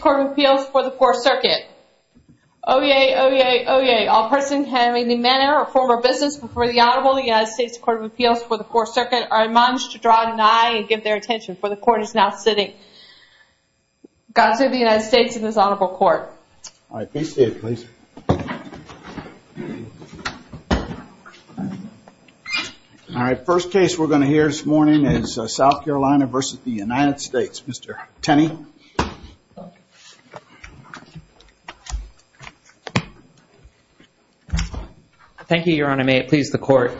Court of Appeals for the Fourth Circuit. Oyez, oyez, oyez, all persons having any manner or form of business before the audible of the United States Court of Appeals for the Fourth Circuit are admonished to draw an eye and give their attention, for the Court is now sitting. God save the United States and this Honorable Court. All right, first case we're going to hear this morning is South Carolina v. United States. Mr. Tenney. Thank you, Your Honor. May it please the Court.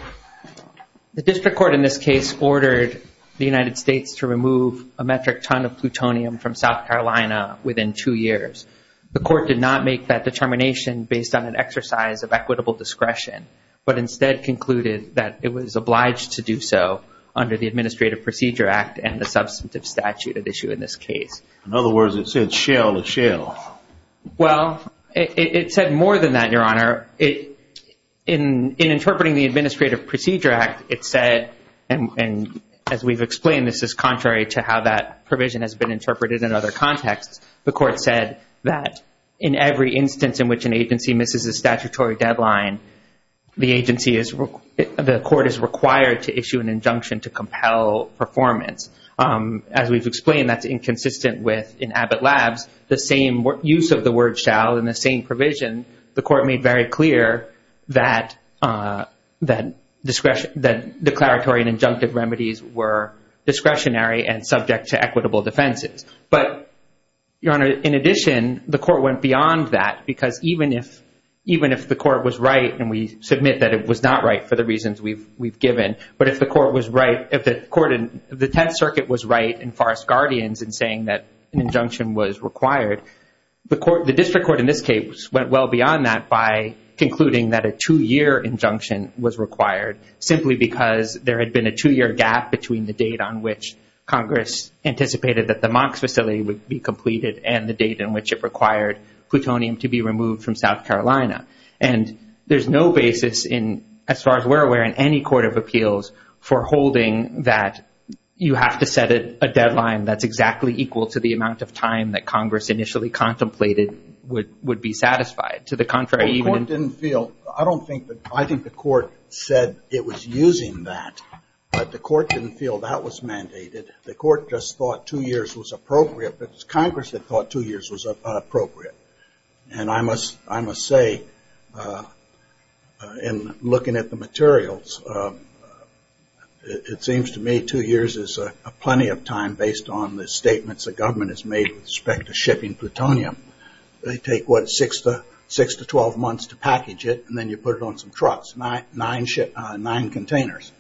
The district court in this case ordered the United States to remove a metric ton of plutonium from South Carolina within two years. The Court did not make that determination based on an exercise of equitable discretion, but instead concluded that it was obliged to do so under the Administrative Procedure Act and the substantive statute at issue in this case. In other words, it said shale to shale. Well, it said more than that, Your Honor. In interpreting the Administrative Procedure Act, it said, and as we've explained, this is contrary to how that provision has been interpreted in other contexts. The Court said that in every instance in which an agency misses a statutory deadline, the agency is – the Court is required to issue an injunction to compel performance. As we've explained, that's inconsistent with – in Abbott Labs, the same use of the word shale and the same provision, the Court made very clear that declaratory and injunctive remedies were discretionary and subject to equitable defenses. But, Your Honor, in addition, the Court went beyond that because even if the Court was right, and we submit that it was not right for the reasons we've given, but if the Court was right – if the court – if the Tenth Circuit was right in Forrest-Guardian's in saying that an injunction was required, the District Court in this case went well beyond that by concluding that a two-year injunction was required simply because there had been a two-year gap between the date on which Congress anticipated that the MOX facility would be completed and the date in which it required plutonium to be removed from South Carolina. And there's no basis in – as far as we're aware in any court of appeals for holding that you have to set a deadline that's exactly equal to the amount of time that Congress initially contemplated would be satisfied. To the contrary, even – I think the Court said it was using that, but the Court didn't feel that was mandated. The Court just thought two years was appropriate, but it's Congress that thought two years was appropriate. And I must say, in looking at the materials, it seems to me two years is plenty of time based on the statements the government has made with respect to shipping plutonium. They take, what, six to 12 months to package it, and then you put it on some trucks, nine containers,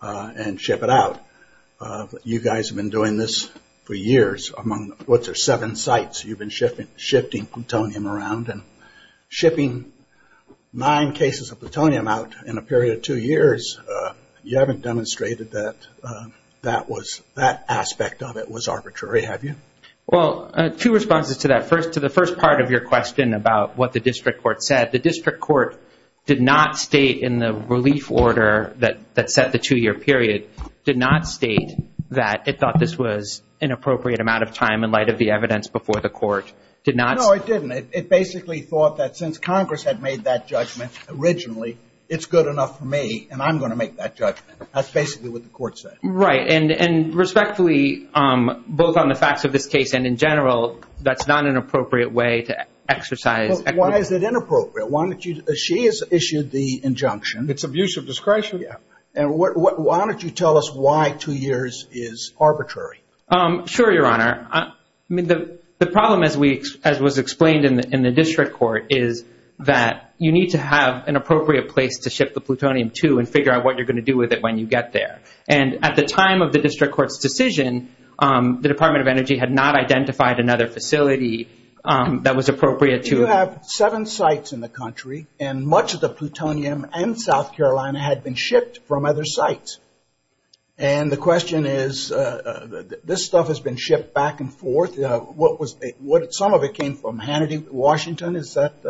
and ship it out. But you guys have been doing this for years among what's there, seven sites you've been shifting plutonium around. And shipping nine cases of plutonium out in a period of two years, you haven't demonstrated that that aspect of it was arbitrary, have you? Well, two responses to that. First, to the first part of your question about what the District Court said, the District Court did not state in the relief order that set the two-year period, did not state that it thought this was an appropriate amount of time in light of the evidence before the Court did not – No, it didn't. It basically thought that since Congress had made that judgment originally, it's good enough for me, and I'm going to make that judgment. That's basically what the Court said. Right, and respectfully, both on the facts of this case and in general, that's not an appropriate way to exercise – Why is it inappropriate? Why don't you – she has issued the injunction. It's abuse of discretion. Yeah. And why don't you tell us why two years is arbitrary? Sure, Your Honor. I mean, the problem, as was explained in the District Court, is that you need to have an appropriate place to ship the plutonium to and figure out what you're going to do with it when you get there. And at the time of the District Court's decision, the Department of Energy had not identified another facility that was appropriate to – There are seven sites in the country, and much of the plutonium in South Carolina had been shipped from other sites. And the question is, this stuff has been shipped back and forth. Some of it came from Washington. Is that –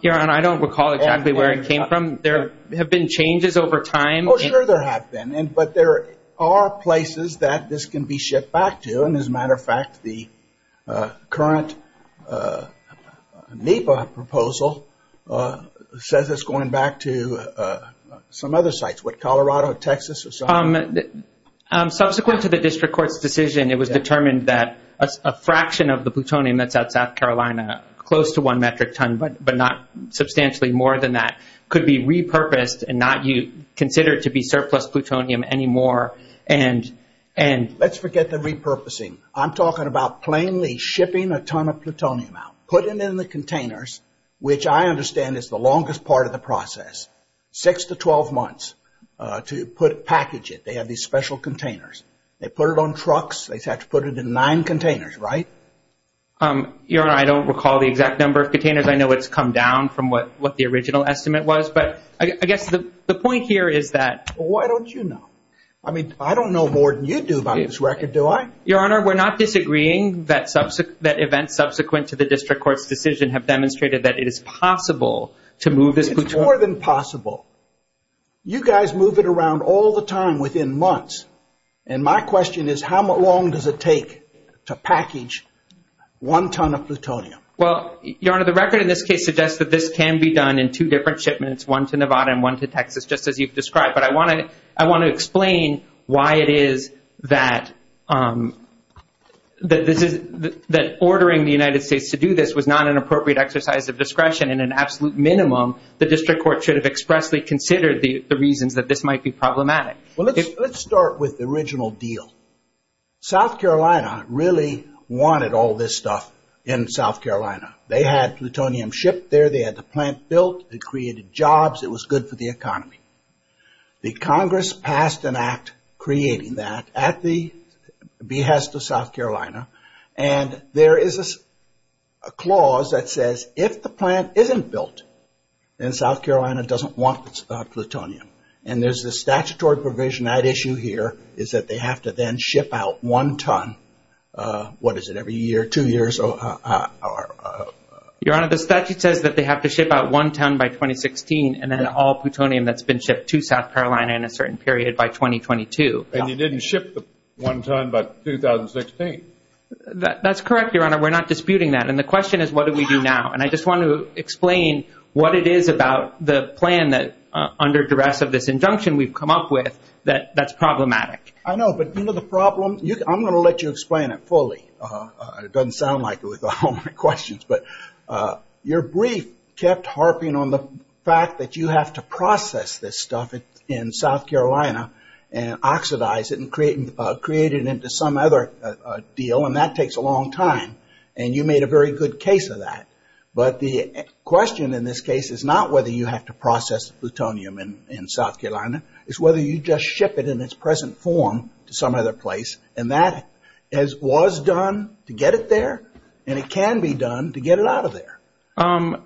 Your Honor, I don't recall exactly where it came from. There have been changes over time. Well, sure, there have been. But there are places that this can be shipped back to. And as a matter of fact, the current NEPA proposal says it's going back to some other sites. What, Colorado, Texas, or something? Subsequent to the District Court's decision, it was determined that a fraction of the plutonium that's out of South Carolina, close to one metric ton, but not substantially more than that, could be repurposed and not considered to be surplus plutonium anymore. And – Let's forget the repurposing. I'm talking about plainly shipping a ton of plutonium out, putting it in the containers, which I understand is the longest part of the process, six to 12 months, to package it. They have these special containers. They put it on trucks. They have to put it in nine containers, right? Your Honor, I don't recall the exact number of containers. I know it's come down from what the original estimate was. But I guess the point here is that – Well, why don't you know? I mean, I don't know more than you do about this record, do I? Your Honor, we're not disagreeing that events subsequent to the District Court's decision have demonstrated that it is possible to move this plutonium – one ton of plutonium. Well, Your Honor, the record in this case suggests that this can be done in two different shipments, one to Nevada and one to Texas, just as you've described. But I want to explain why it is that ordering the United States to do this was not an appropriate exercise of discretion. At an absolute minimum, the District Court should have expressly considered the reasons that this might be problematic. Well, let's start with the original deal. South Carolina really wanted all this stuff in South Carolina. They had plutonium shipped there. They had the plant built. It created jobs. It was good for the economy. The Congress passed an act creating that at the behest of South Carolina. And there is a clause that says if the plant isn't built, then South Carolina doesn't want plutonium. And there's this statutory provision. That issue here is that they have to then ship out one ton – what is it, every year, two years? Your Honor, the statute says that they have to ship out one ton by 2016 and then all plutonium that's been shipped to South Carolina in a certain period by 2022. And you didn't ship the one ton by 2016. That's correct, Your Honor. We're not disputing that. And the question is, what do we do now? And I just want to explain what it is about the plan that, under duress of this injunction we've come up with, that's problematic. I know, but the problem – I'm going to let you explain it fully. It doesn't sound like it with all my questions, but your brief kept harping on the fact that you have to process this stuff in South Carolina and oxidize it and create it into some other deal, and that takes a long time. And you made a very good case of that. But the question in this case is not whether you have to process plutonium in South Carolina. It's whether you just ship it in its present form to some other place. And that was done to get it there, and it can be done to get it out of there. And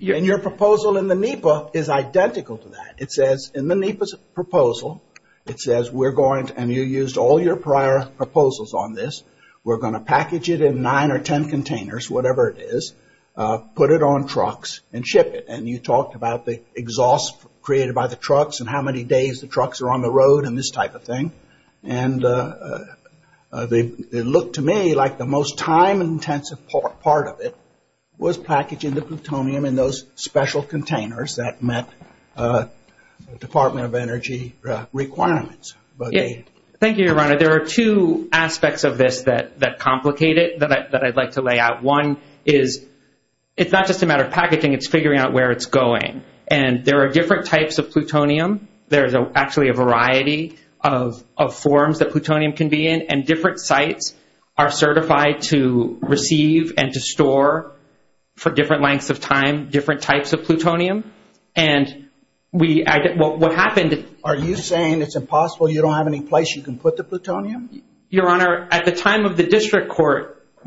your proposal in the NEPA is identical to that. It says in the NEPA's proposal, it says we're going to – and you used all your prior proposals on this – we're going to package it in nine or ten containers, whatever it is, put it on trucks, and ship it. And you talked about the exhaust created by the trucks and how many days the trucks are on the road and this type of thing. And it looked to me like the most time-intensive part of it was packaging the plutonium in those special containers that met Department of Energy requirements. Thank you, Your Honor. There are two aspects of this that complicate it that I'd like to lay out. One is it's not just a matter of packaging. It's figuring out where it's going. And there are different types of plutonium. There's actually a variety of forms that plutonium can be in. And different sites are certified to receive and to store for different lengths of time different types of plutonium. And we – what happened – Are you saying it's impossible, you don't have any place you can put the plutonium? Your Honor, at the time of the district court –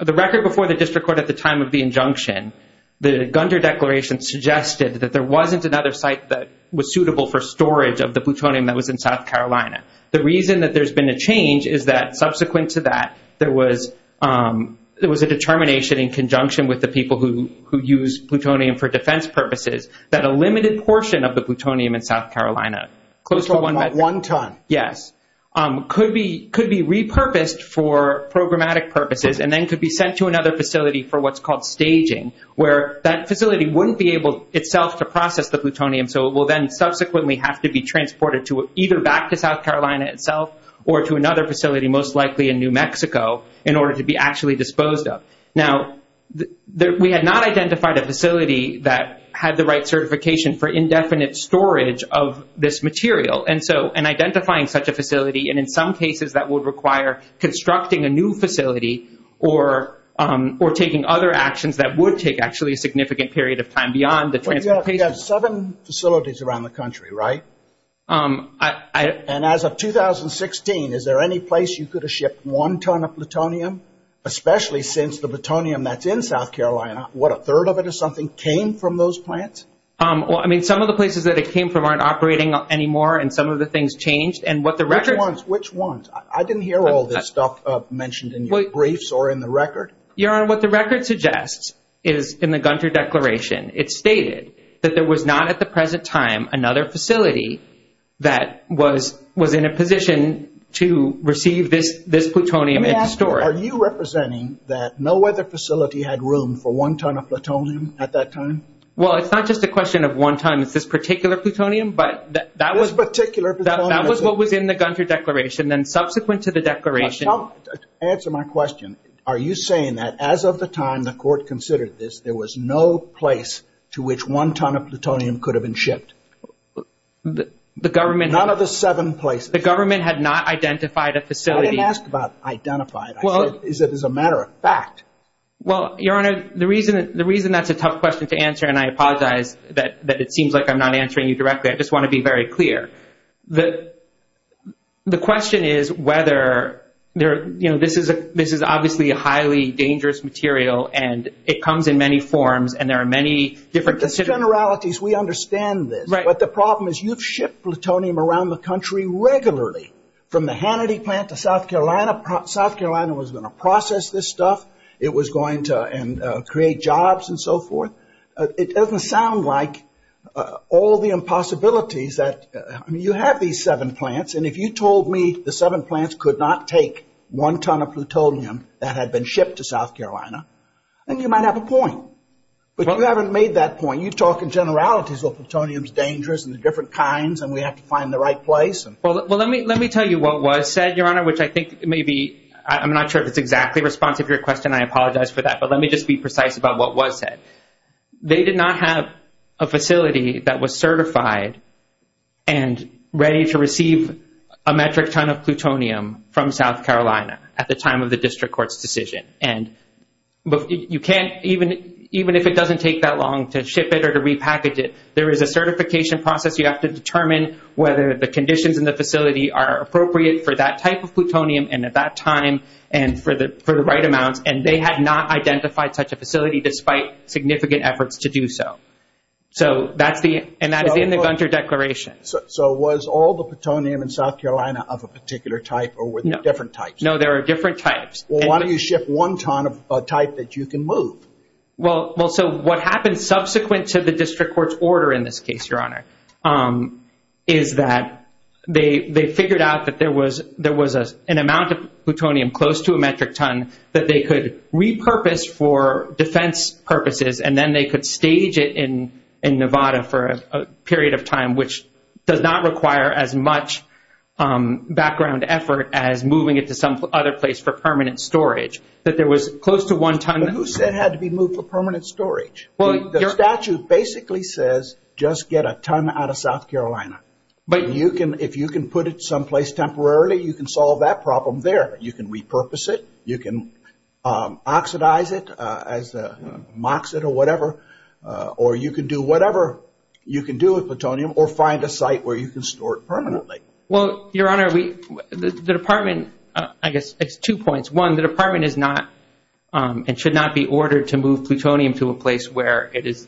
the record before the district court at the time of the injunction, the Gunter Declaration suggested that there wasn't another site that was suitable for storage of the plutonium that was in South Carolina. The reason that there's been a change is that subsequent to that, there was a determination in conjunction with the people who used plutonium for defense purposes that a limited portion of the plutonium in South Carolina – Close to about one ton. Yes, could be repurposed for programmatic purposes and then could be sent to another facility for what's called staging, where that facility wouldn't be able itself to process the plutonium. So it will then subsequently have to be transported to either back to South Carolina itself or to another facility, most likely in New Mexico, in order to be actually disposed of. Now, we had not identified a facility that had the right certification for indefinite storage of this material. And so in identifying such a facility, and in some cases that would require constructing a new facility or taking other actions that would take actually a significant period of time beyond the – You have seven facilities around the country, right? And as of 2016, is there any place you could have shipped one ton of plutonium, especially since the plutonium that's in South Carolina, what, a third of it or something came from those plants? Well, I mean, some of the places that it came from aren't operating anymore, and some of the things changed, and what the record – Which ones? Which ones? I didn't hear all this stuff mentioned in your briefs or in the record. Your Honor, what the record suggests is, in the Gunter Declaration, it stated that there was not at the present time another facility that was in a position to receive this plutonium in storage. Let me ask, are you representing that no other facility had room for one ton of plutonium at that time? Well, it's not just a question of one ton of this particular plutonium, but that was – This particular plutonium. That was what was in the Gunter Declaration, and subsequent to the declaration – Answer my question. Are you saying that as of the time the court considered this, there was no place to which one ton of plutonium could have been shipped? None of the seven places. The government had not identified a facility. I didn't ask about identified. I said, is it as a matter of fact? Well, Your Honor, the reason that's a tough question to answer, and I apologize that it seems like I'm not answering you directly, I just want to be very clear. The question is whether – this is obviously a highly dangerous material, and it comes in many forms, and there are many different – The generalities, we understand this. Right. But the problem is you've shipped plutonium around the country regularly, from the Hannity plant to South Carolina. South Carolina was going to process this stuff. It was going to create jobs and so forth. It doesn't sound like all the impossibilities that – you have these seven plants, and if you told me the seven plants could not take one ton of plutonium that had been shipped to South Carolina, then you might have a point. But you haven't made that point. You talk in generalities about plutonium's dangers and the different kinds, and we have to find the right place. Well, let me tell you what was said, Your Honor, which I think maybe – I'm not sure if it's exactly responsive to your question, and I apologize for that, but let me just be precise about what was said. They did not have a facility that was certified and ready to receive a metric ton of plutonium from South Carolina at the time of the district court's decision. But you can't – even if it doesn't take that long to ship it or to repackage it, there is a certification process. You have to determine whether the conditions in the facility are appropriate for that type of plutonium and at that time and for the right amount. And they had not identified such a facility despite significant efforts to do so. So that's the – and that is in the bunker declaration. So was all the plutonium in South Carolina of a particular type or were there different types? No, there were different types. Well, why don't you ship one ton of type that you can move? Well, so what happened subsequent to the district court's order in this case, Your Honor, is that they figured out that there was an amount of plutonium close to a metric ton that they could repurpose for defense purposes, and then they could stage it in Nevada for a period of time, which does not require as much background effort as moving it to some other place for permanent storage. That there was close to one ton. But who said it had to be moved for permanent storage? The statute basically says just get a ton out of South Carolina. But you can – if you can put it someplace temporarily, you can solve that problem there. You can repurpose it. You can oxidize it as a MOXET or whatever, or you can do whatever you can do with plutonium or find a site where you can store it permanently. Well, Your Honor, the department – I guess it's two points. One, the department is not – and should not be ordered to move plutonium to a place where it is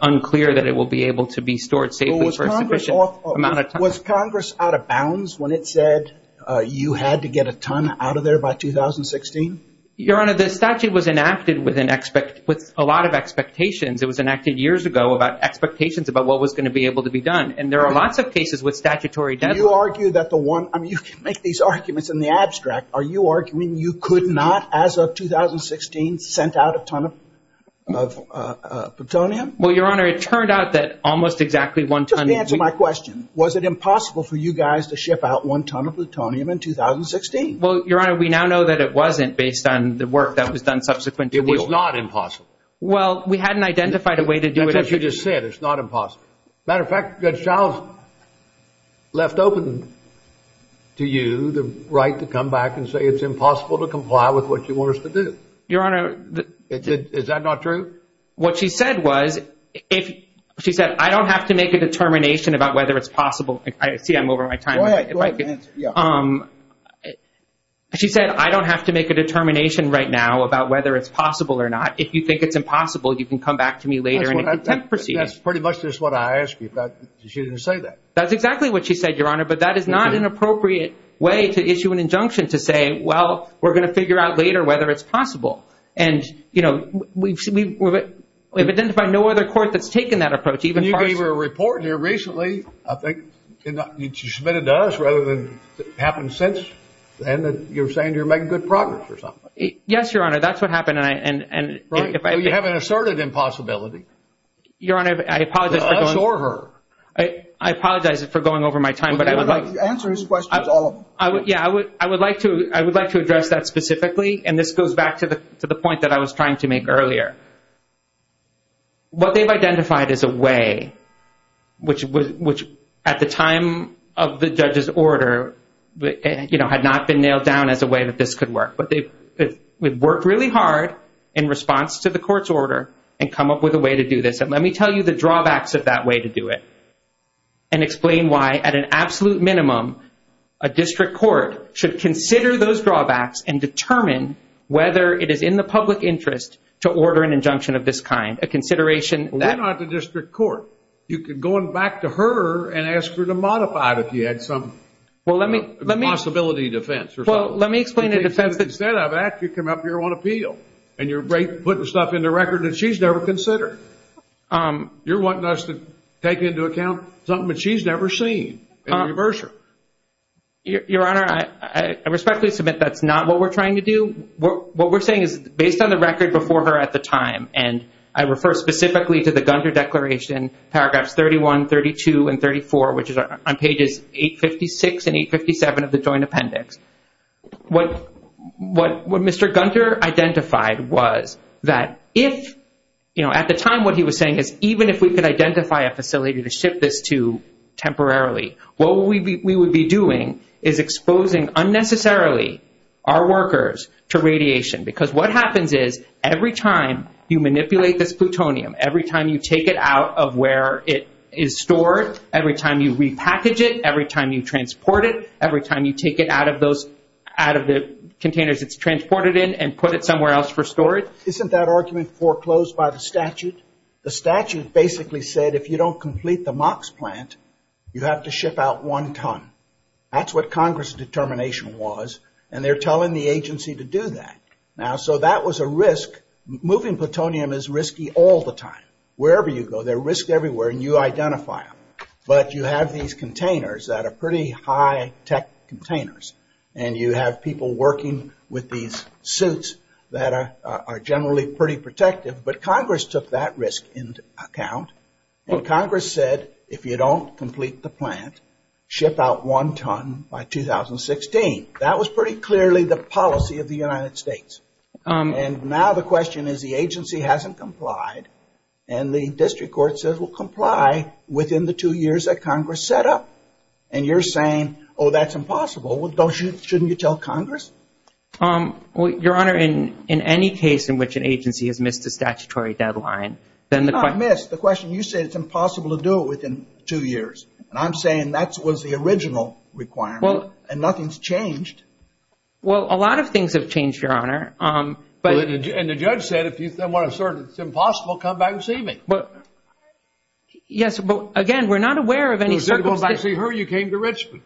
unclear that it will be able to be stored safely for a sufficient amount of time. Was Congress out of bounds when it said you had to get a ton out of there by 2016? Your Honor, the statute was enacted with a lot of expectations. It was enacted years ago about expectations about what was going to be able to be done. And there are lots of cases with statutory – Do you argue that the one – I mean, you can make these arguments in the abstract. Are you arguing you could not as of 2016 send out a ton of plutonium? Well, Your Honor, it turned out that almost exactly one ton – Just answer my question. Was it impossible for you guys to ship out one ton of plutonium in 2016? Well, Your Honor, we now know that it wasn't based on the work that was done subsequently. It was not impossible. Well, we hadn't identified a way to do it. That's what you just said. It's not impossible. As a matter of fact, Judge Giles left open to you the right to come back and say it's impossible to comply with what you want us to do. Your Honor – Is that not true? What she said was – she said, I don't have to make a determination about whether it's possible. See, I'm over my time. Go ahead. She said, I don't have to make a determination right now about whether it's possible or not. If you think it's impossible, you can come back to me later. That's pretty much just what I asked you. She didn't say that. That's exactly what she said, Your Honor, but that is not an appropriate way to issue an injunction to say, well, we're going to figure out later whether it's possible. And, you know, we've identified no other court that's taken that approach. You gave your report here recently, I think, and you submitted to us rather than it happened since, and you're saying you're making good progress or something. Yes, Your Honor, that's what happened. You have an assorted impossibility. Your Honor, I apologize – Absorb her. I apologize for going over my time, but I would like – Answer his question. Yeah, I would like to address that specifically, and this goes back to the point that I was trying to make earlier. What they've identified as a way, which at the time of the judge's order, you know, had not been nailed down as a way that this could work, but they've worked really hard in response to the court's order and come up with a way to do this. And let me tell you the drawbacks of that way to do it and explain why at an absolute minimum a district court should consider those drawbacks and determine whether it is in the public interest to order an injunction of this kind, a consideration – You're not the district court. You could go on back to her and ask her to modify it if you had some possibility defense or something. Well, let me explain the defense – Instead of that, you come up here on appeal, and you're putting stuff in the record that she's never considered. You're wanting us to take into account something that she's never seen and reverse her. Your Honor, I respectfully submit that's not what we're trying to do. What we're saying is based on the record before her at the time, and I refer specifically to the Gunther Declaration, paragraphs 31, 32, and 34, which is on pages 856 and 857 of the Joint Appendix, what Mr. Gunther identified was that if – at the time what he was saying is even if we could identify a facility to ship this to temporarily, what we would be doing is exposing unnecessarily our workers to radiation because what happens is every time you manipulate this plutonium, every time you take it out of where it is stored, every time you repackage it, every time you transport it, every time you take it out of those – out of the containers it's transported in and put it somewhere else for storage – Isn't that argument foreclosed by the statute? The statute basically said if you don't complete the MOX plant, you have to ship out one ton. That's what Congress' determination was, and they're telling the agency to do that. Now, so that was a risk. Moving plutonium is risky all the time. Wherever you go, there are risks everywhere, and you identify them. But you have these containers that are pretty high-tech containers, and you have people working with these suits that are generally pretty protective, but Congress took that risk into account, and Congress said if you don't complete the plant, ship out one ton by 2016. That was pretty clearly the policy of the United States. And now the question is the agency hasn't complied, and the district court says we'll comply within the two years that Congress set up. And you're saying, oh, that's impossible. Well, don't you – shouldn't you tell Congress? Your Honor, in any case in which an agency has missed the statutory deadline, then the – It's not missed. The question – you said it's impossible to do it within two years. And I'm saying that was the original requirement, and nothing's changed. Well, a lot of things have changed, Your Honor, but – And the judge said if you want to assert it's impossible, come back and see me. Yes, but again, we're not aware of any – If you didn't want to see her, you came to Richland.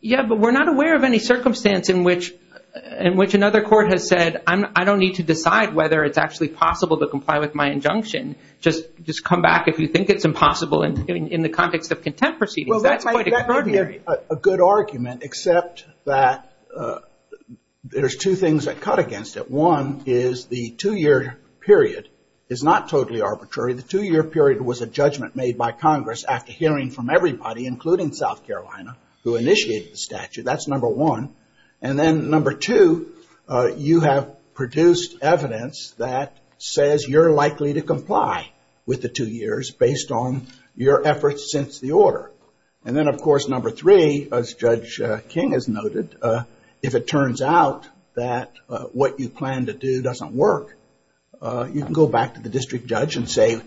Yeah, but we're not aware of any circumstance in which another court has said, I don't need to decide whether it's actually possible to comply with my injunction. Just come back if you think it's impossible in the context of contempt proceedings. Well, that might be a good argument, except that there's two things that cut against it. One is the two-year period is not totally arbitrary. The two-year period was a judgment made by Congress after hearing from everybody, including South Carolina, who initiated the statute. That's number one. And then number two, you have produced evidence that says you're likely to comply with the two years based on your efforts since the order. And then, of course, number three, as Judge King has noted, if it turns out that what you plan to do doesn't work, you can go back to the district judge and say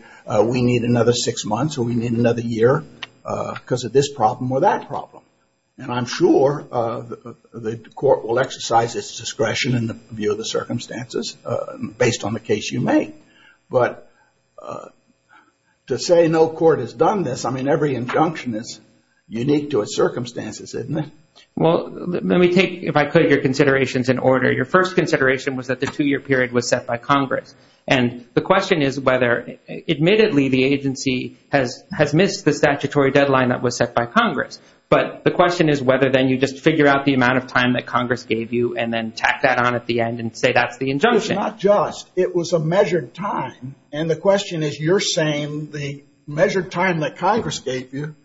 we need another six months or we need another year because of this problem or that problem. And I'm sure the court will exercise its discretion in the view of the circumstances based on the case you make. But to say no court has done this, I mean, every injunction is unique to its circumstances, isn't it? Well, let me take, if I put your considerations in order, your first consideration was that the two-year period was set by Congress. And the question is whether, admittedly, the agency has missed the statutory deadline that was set by Congress. But the question is whether then you just figure out the amount of time that Congress gave you and then tack that on at the end and say that's the injunction. It's not just. It was a measured time. And the question is you're saying the measured time that Congress gave you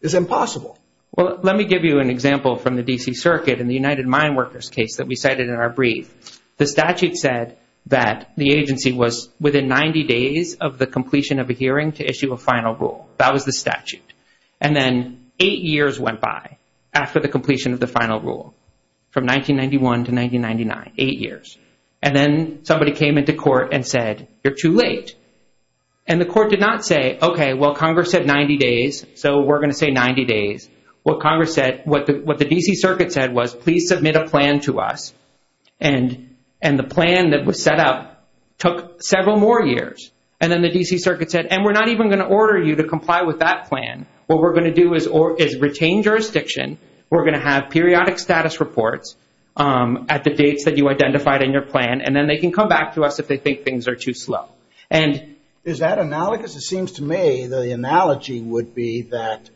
is impossible. Well, let me give you an example from the D.C. Circuit in the United Mine Workers case that we cited in our brief. The statute said that the agency was within 90 days of the completion of a hearing to issue a final rule. That was the statute. And then eight years went by after the completion of the final rule, from 1991 to 1999, eight years. And then somebody came into court and said, you're too late. And the court did not say, okay, well, Congress said 90 days, so we're going to say 90 days. Well, Congress said, what the D.C. Circuit said was please submit a plan to us. And the plan that was set up took several more years. And then the D.C. Circuit said, and we're not even going to order you to comply with that plan. What we're going to do is retain jurisdiction. We're going to have periodic status reports at the dates that you identified in your plan, and then they can come back to us if they think things are too slow. Is that analogous? It seems to me the analogy would be that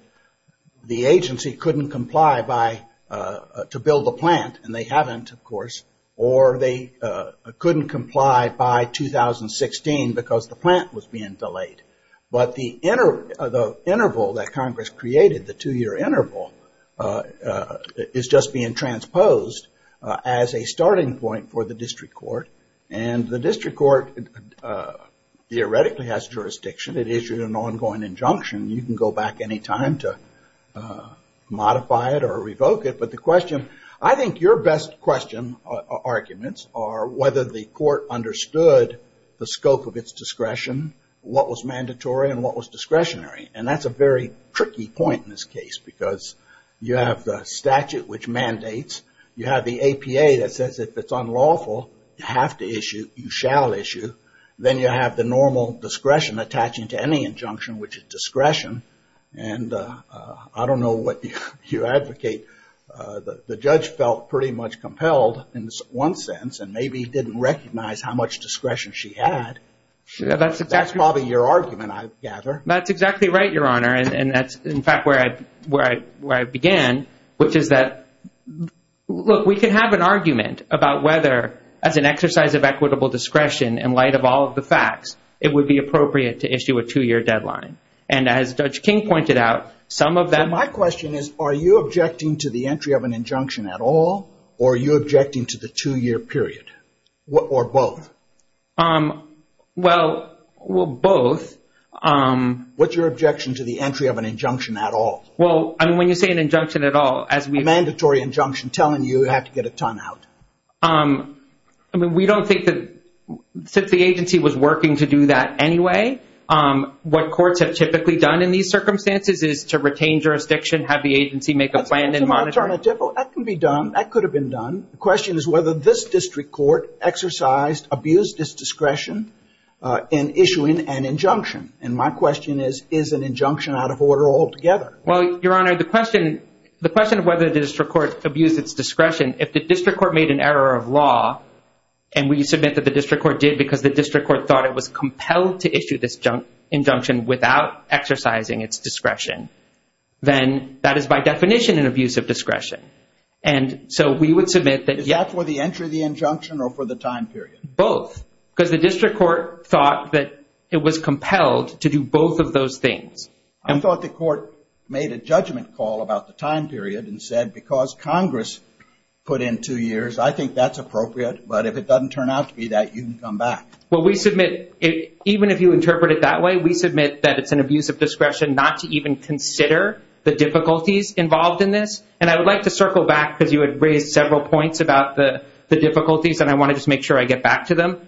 the agency couldn't comply to build the plant, and they haven't, of course, or they couldn't comply by 2016 because the plant was being delayed. But the interval that Congress created, the two-year interval, is just being transposed as a starting point for the district court. And the district court theoretically has jurisdiction. It issued an ongoing injunction. You can go back any time to modify it or revoke it. I think your best question arguments are whether the court understood the scope of its discretion, what was mandatory, and what was discretionary. And that's a very tricky point in this case because you have the statute, which mandates. You have the APA that says if it's unlawful, you have to issue, you shall issue. Then you have the normal discretion attaching to any injunction, which is discretion. And I don't know what you advocate. The judge felt pretty much compelled in one sense and maybe didn't recognize how much discretion she had. That's probably your argument, I gather. That's exactly right, Your Honor, and that's, in fact, where I began, which is that, look, we can have an argument about whether, as an exercise of equitable discretion in light of all of the facts, it would be appropriate to issue a two-year deadline. And as Judge King pointed out, some of that- My question is, are you objecting to the entry of an injunction at all, or are you objecting to the two-year period, or both? Well, both. What's your objection to the entry of an injunction at all? Well, I mean, when you say an injunction at all, it has to be a mandatory injunction telling you you have to get a timeout. I mean, we don't think that since the agency was working to do that anyway, what courts have typically done in these circumstances is to retain jurisdiction, have the agency make a plan and monitor- That can be done. That could have been done. The question is whether this district court exercised, abused its discretion in issuing an injunction. And my question is, is an injunction out of order altogether? Well, Your Honor, the question of whether the district court abused its discretion, if the district court made an error of law and we submit that the district court did because the district court thought it was compelled to issue this injunction without exercising its discretion, then that is by definition an abuse of discretion. And so we would submit that- Is that for the entry of the injunction or for the time period? Both, because the district court thought that it was compelled to do both of those things. I thought the court made a judgment call about the time period and said, because Congress put in two years, I think that's appropriate. But if it doesn't turn out to be that, you can come back. Well, we submit, even if you interpret it that way, we submit that it's an abuse of discretion not to even consider the difficulties involved in this. And I would like to circle back because you had raised several points about the difficulties, and I want to just make sure I get back to them.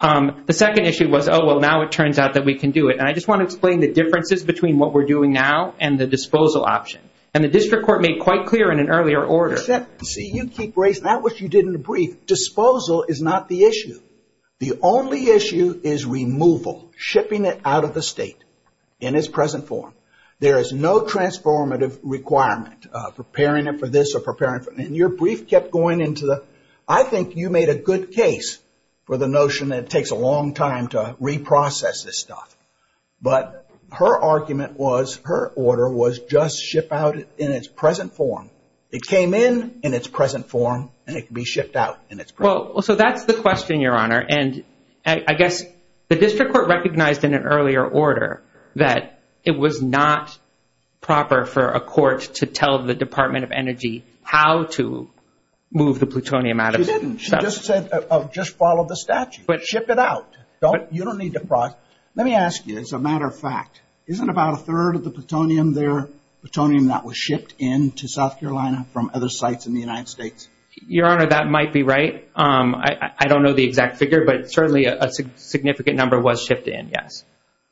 The second issue was, oh, well, now it turns out that we can do it. And I just want to explain the differences between what we're doing now and the disposal option. And the district court made quite clear in an earlier order. You see, you keep raising that, which you did in the brief. Disposal is not the issue. The only issue is removal, shipping it out of the state in its present form. There is no transformative requirement, preparing it for this or preparing it for that. And your brief kept going into the- I think you made a good case for the notion that it takes a long time to reprocess this stuff. But her argument was, her order was just ship out in its present form. It came in in its present form, and it can be shipped out in its present form. Well, so that's the question, Your Honor, and I guess the district court recognized in an earlier order that it was not proper for a court to tell the Department of Energy how to move the plutonium out of- She didn't. She just said, oh, just follow the statute. But ship it out. You don't need to- Let me ask you, as a matter of fact, isn't about a third of the plutonium there plutonium that was shipped into South Carolina from other sites in the United States? Your Honor, that might be right. I don't know the exact figure, but certainly a significant number was shipped in, yes.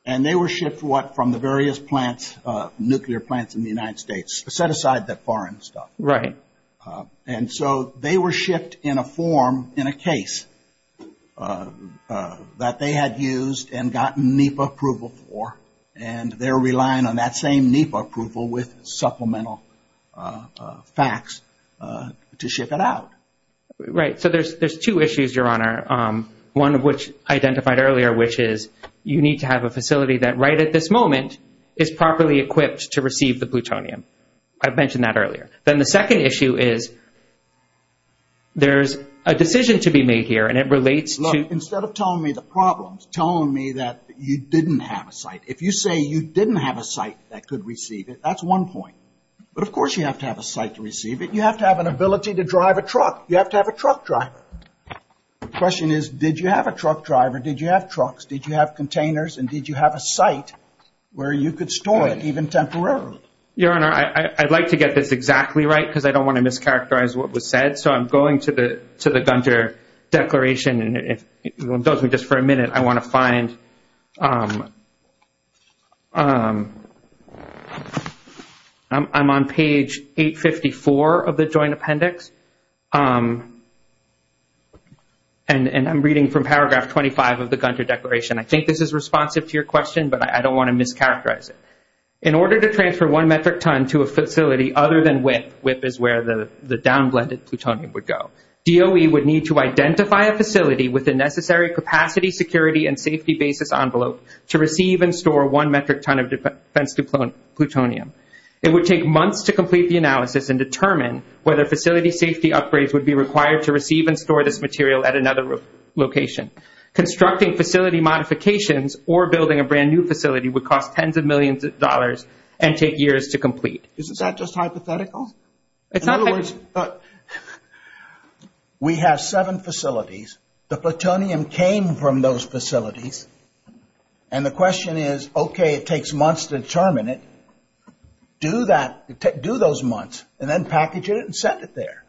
And they were shipped from the various plants, nuclear plants in the United States. Set aside the foreign stuff. Right. And so they were shipped in a form in a case that they had used and gotten NEPA approval for, and they're relying on that same NEPA approval with supplemental facts to ship it out. Right. So there's two issues, Your Honor, one of which identified earlier, which is you need to have a facility that right at this moment is properly equipped to receive the plutonium. I mentioned that earlier. Then the second issue is there's a decision to be made here, and it relates to- Look, instead of telling me the problems, tell me that you didn't have a site. If you say you didn't have a site that could receive it, that's one point. But of course you have to have a site to receive it. You have to have an ability to drive a truck. You have to have a truck driver. The question is, did you have a truck driver? Did you have trucks? Did you have containers? And did you have a site where you could store it, even temporarily? Your Honor, I'd like to get this exactly right because I don't want to mischaracterize what was said. So I'm going to the Gunter Declaration, and if you'll indulge me just for a minute, I want to find- I'm on page 854 of the Joint Appendix, and I'm reading from paragraph 25 of the Gunter Declaration. I think this is responsive to your question, but I don't want to mischaracterize it. In order to transfer one metric ton to a facility other than WIP, WIP is where the down-blended plutonium would go, DOE would need to identify a facility with the necessary capacity, security, and safety basis envelope to receive and store one metric ton of defense plutonium. It would take months to complete the analysis and determine whether facility safety upgrades would be required to receive and store this material at another location. Constructing facility modifications or building a brand-new facility would cost tens of millions of dollars and take years to complete. Isn't that just hypothetical? In other words, we have seven facilities. The plutonium came from those facilities, and the question is, okay, it takes months to determine it. Do those months, and then package it and set it there.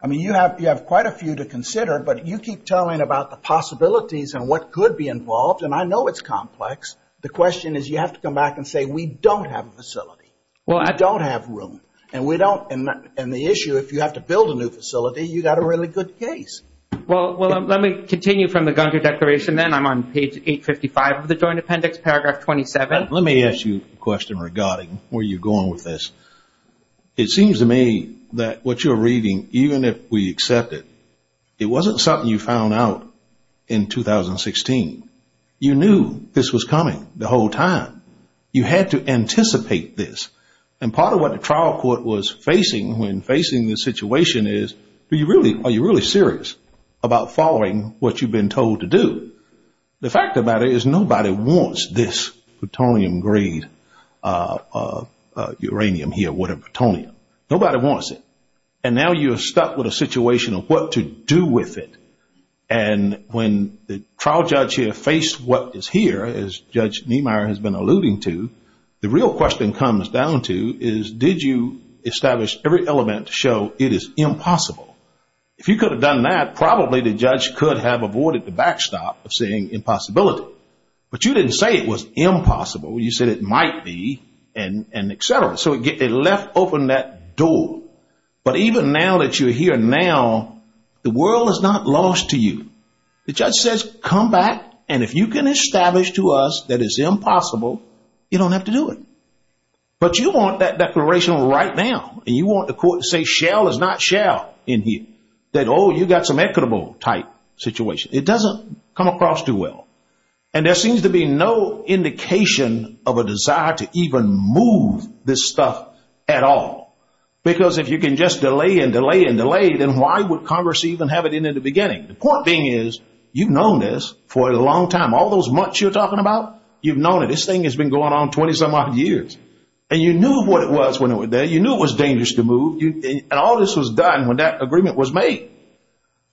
I mean, you have quite a few to consider, but you keep telling about the possibilities and what could be involved, and I know it's complex. The question is, you have to come back and say, we don't have a facility. Well, I don't have room, and the issue, if you have to build a new facility, you've got a really good case. Well, let me continue from the Gunter Declaration then. I'm on page 855 of the Joint Appendix, paragraph 27. Let me ask you a question regarding where you're going with this. It seems to me that what you're reading, even if we accept it, it wasn't something you found out in 2016. You knew this was coming the whole time. You had to anticipate this. And part of what the trial court was facing when facing this situation is, are you really serious about following what you've been told to do? The fact about it is nobody wants this plutonium grade uranium here, whatever, plutonium. Nobody wants it. And now you're stuck with a situation of what to do with it. And when the trial judge here faced what is here, as Judge Niemeyer has been alluding to, the real question comes down to is, did you establish every element to show it is impossible? If you could have done that, probably the judge could have avoided the backstop of saying impossibility. But you didn't say it was impossible. You said it might be, and et cetera. So it left open that door. But even now that you're here now, the world is not lost to you. The judge says, come back, and if you can establish to us that it's impossible, you don't have to do it. But you want that declaration right now, and you want the court to say, Shell is not Shell in here, that, oh, you've got some equitable type situation. It doesn't come across too well. And there seems to be no indication of a desire to even move this stuff at all. Because if you can just delay and delay and delay, then why would Congress even have it in at the beginning? The point being is, you've known this for a long time. All those months you're talking about, you've known it. This thing has been going on 20-some odd years. And you knew what it was when it was there. You knew it was dangerous to move. And all this was done when that agreement was made.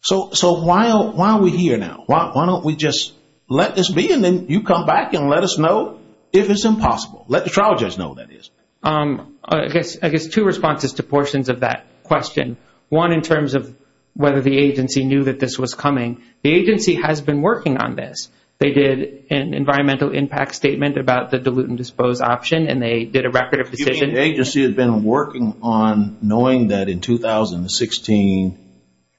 So why are we here now? Why don't we just let this be, and then you come back and let us know if it's impossible. Let the trial judge know that it is. I guess two responses to portions of that question. One in terms of whether the agency knew that this was coming. The agency has been working on this. They did an environmental impact statement about the dilute and dispose option, and they did a record of the statement. The agency has been working on knowing that in 2016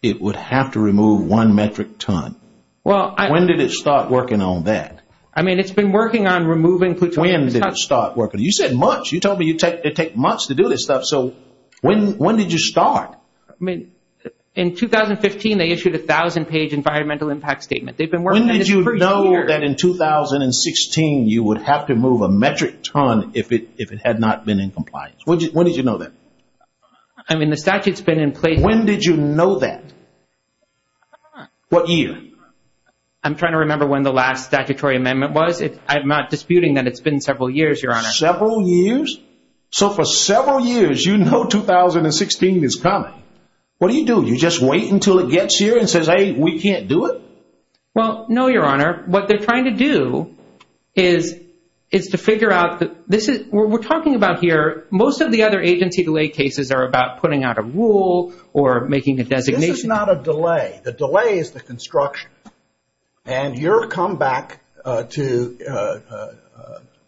it would have to remove one metric ton. When did it start working on that? I mean, it's been working on removing plutonium. When did it start working? You said months. You told me it would take months to do this stuff. So when did you start? In 2015, they issued a 1,000-page environmental impact statement. When did you know that in 2016 you would have to move a metric ton if it had not been in compliance? When did you know that? I mean, the statute's been in place. When did you know that? What year? I'm trying to remember when the last statutory amendment was. I'm not disputing that it's been several years, Your Honor. Several years? So for several years, you know 2016 is coming. What do you do? Do you just wait until it gets here and say, hey, we can't do it? Well, no, Your Honor. What they're trying to do is to figure out that this is what we're talking about here. Most of the other agency delay cases are about putting out a rule or making a designation. This is not a delay. The delay is the construction. And your comeback to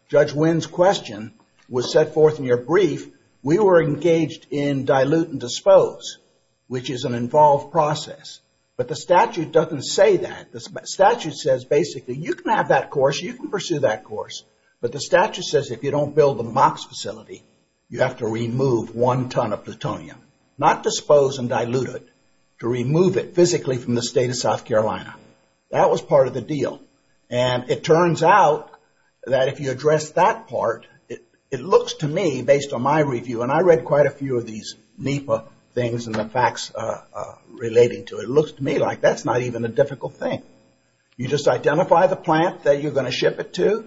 Judge Wynn's question was set forth in your brief. We were engaged in dilute and dispose, which is an involved process. But the statute doesn't say that. The statute says basically you can have that course, you can pursue that course. But the statute says if you don't build a MOX facility, you have to remove one ton of plutonium. Not dispose and dilute it. To remove it physically from the state of South Carolina. That was part of the deal. And it turns out that if you address that part, it looks to me, based on my review, and I read quite a few of these NEPA things and the facts relating to it, it looks to me like that's not even a difficult thing. You just identify the plant that you're going to ship it to,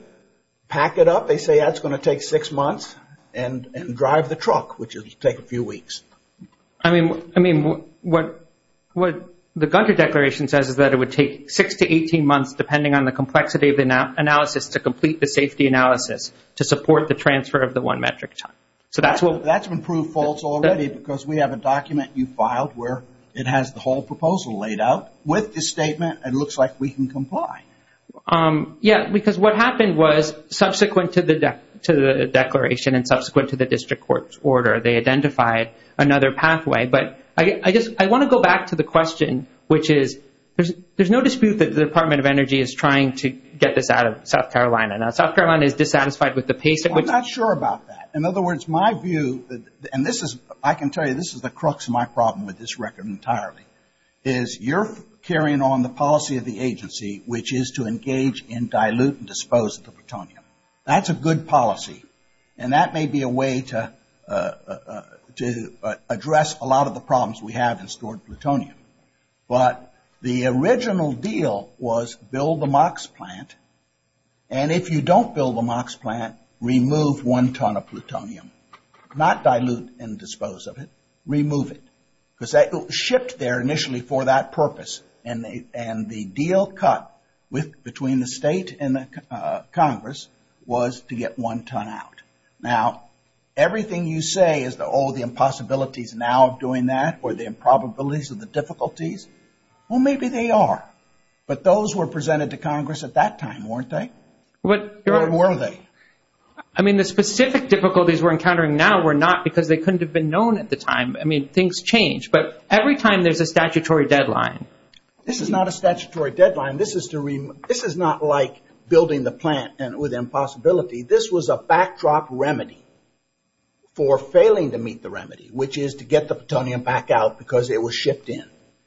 pack it up. But they say that's going to take six months and drive the truck, which will take a few weeks. I mean, what the Gunter Declaration says is that it would take six to 18 months, depending on the complexity of the analysis, to complete the safety analysis to support the transfer of the one metric ton. That's been proved false already because we have a document you filed where it has the whole proposal laid out with the statement and looks like we can comply. Yes, because what happened was subsequent to the declaration and subsequent to the district court's order, they identified another pathway. But I want to go back to the question, which is there's no dispute that the Department of Energy is trying to get this out of South Carolina. Now, South Carolina is dissatisfied with the pace of it. I'm not sure about that. In other words, my view, and I can tell you this is the crux of my problem with this record entirely, is you're carrying on the policy of the agency, which is to engage in dilute and dispose of the plutonium. That's a good policy, and that may be a way to address a lot of the problems we have in stored plutonium. But the original deal was build a MOX plant, and if you don't build a MOX plant, remove one ton of plutonium. Not dilute and dispose of it, remove it. Because that was shipped there initially for that purpose, and the deal cut between the state and Congress was to get one ton out. Now, everything you say is, oh, the impossibilities now of doing that or the improbabilities or the difficulties. Well, maybe they are. But those were presented to Congress at that time, weren't they? Or were they? I mean, the specific difficulties we're encountering now were not because they couldn't have been known at the time. I mean, things change. But every time there's a statutory deadline. This is not a statutory deadline. This is not like building the plant with impossibility. This was a backdrop remedy for failing to meet the remedy, which is to get the plutonium back out because it was shipped in.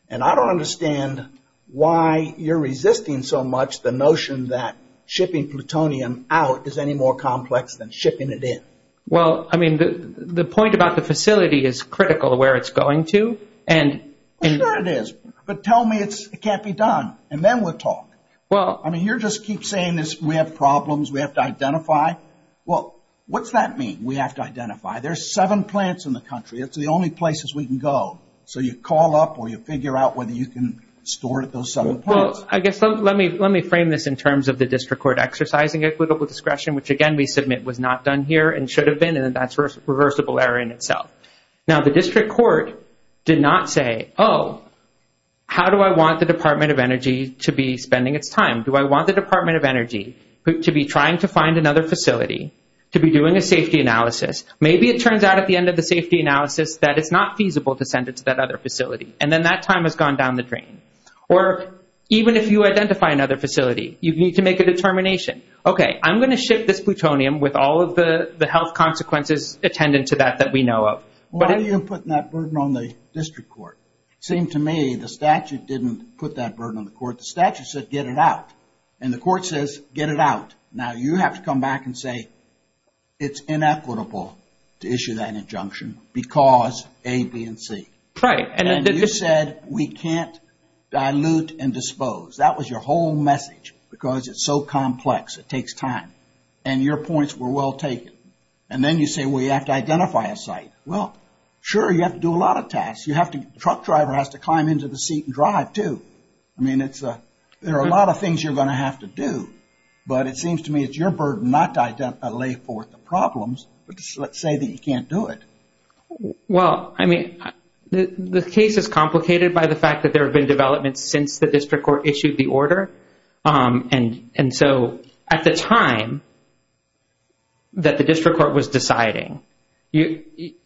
And I don't understand why you're resisting so much the notion that shipping plutonium out is any more complex than shipping it in. Well, I mean, the point about the facility is critical where it's going to. Sure it is, but tell me it can't be done, and then we'll talk. I mean, you just keep saying we have problems, we have to identify. Well, what's that mean, we have to identify? There are seven plants in the country. It's the only places we can go. So you call up or you figure out whether you can store those seven plants. Well, I guess let me frame this in terms of the district court exercising which, again, we submit was not done here and should have been, and that's a reversible error in itself. Now, the district court did not say, oh, how do I want the Department of Energy to be spending its time? Do I want the Department of Energy to be trying to find another facility, to be doing a safety analysis? Maybe it turns out at the end of the safety analysis that it's not feasible to send it to that other facility, and then that time has gone down the drain. Or even if you identify another facility, you need to make a determination. Okay, I'm going to ship this plutonium with all of the health consequences attendant to that that we know of. Why are you putting that burden on the district court? It seemed to me the statute didn't put that burden on the court. The statute said get it out, and the court says get it out. Now, you have to come back and say it's inequitable to issue that injunction because A, B, and C. You said we can't dilute and dispose. That was your whole message because it's so complex, it takes time, and your points were well taken. And then you say, well, you have to identify a site. Well, sure, you have to do a lot of tasks. The truck driver has to climb into the seat and drive too. I mean, there are a lot of things you're going to have to do, but it seems to me it's your burden not to lay forth the problems, but to say that you can't do it. Well, I mean, the case is complicated by the fact that there have been developments since the district court issued the order, and so at the time that the district court was deciding,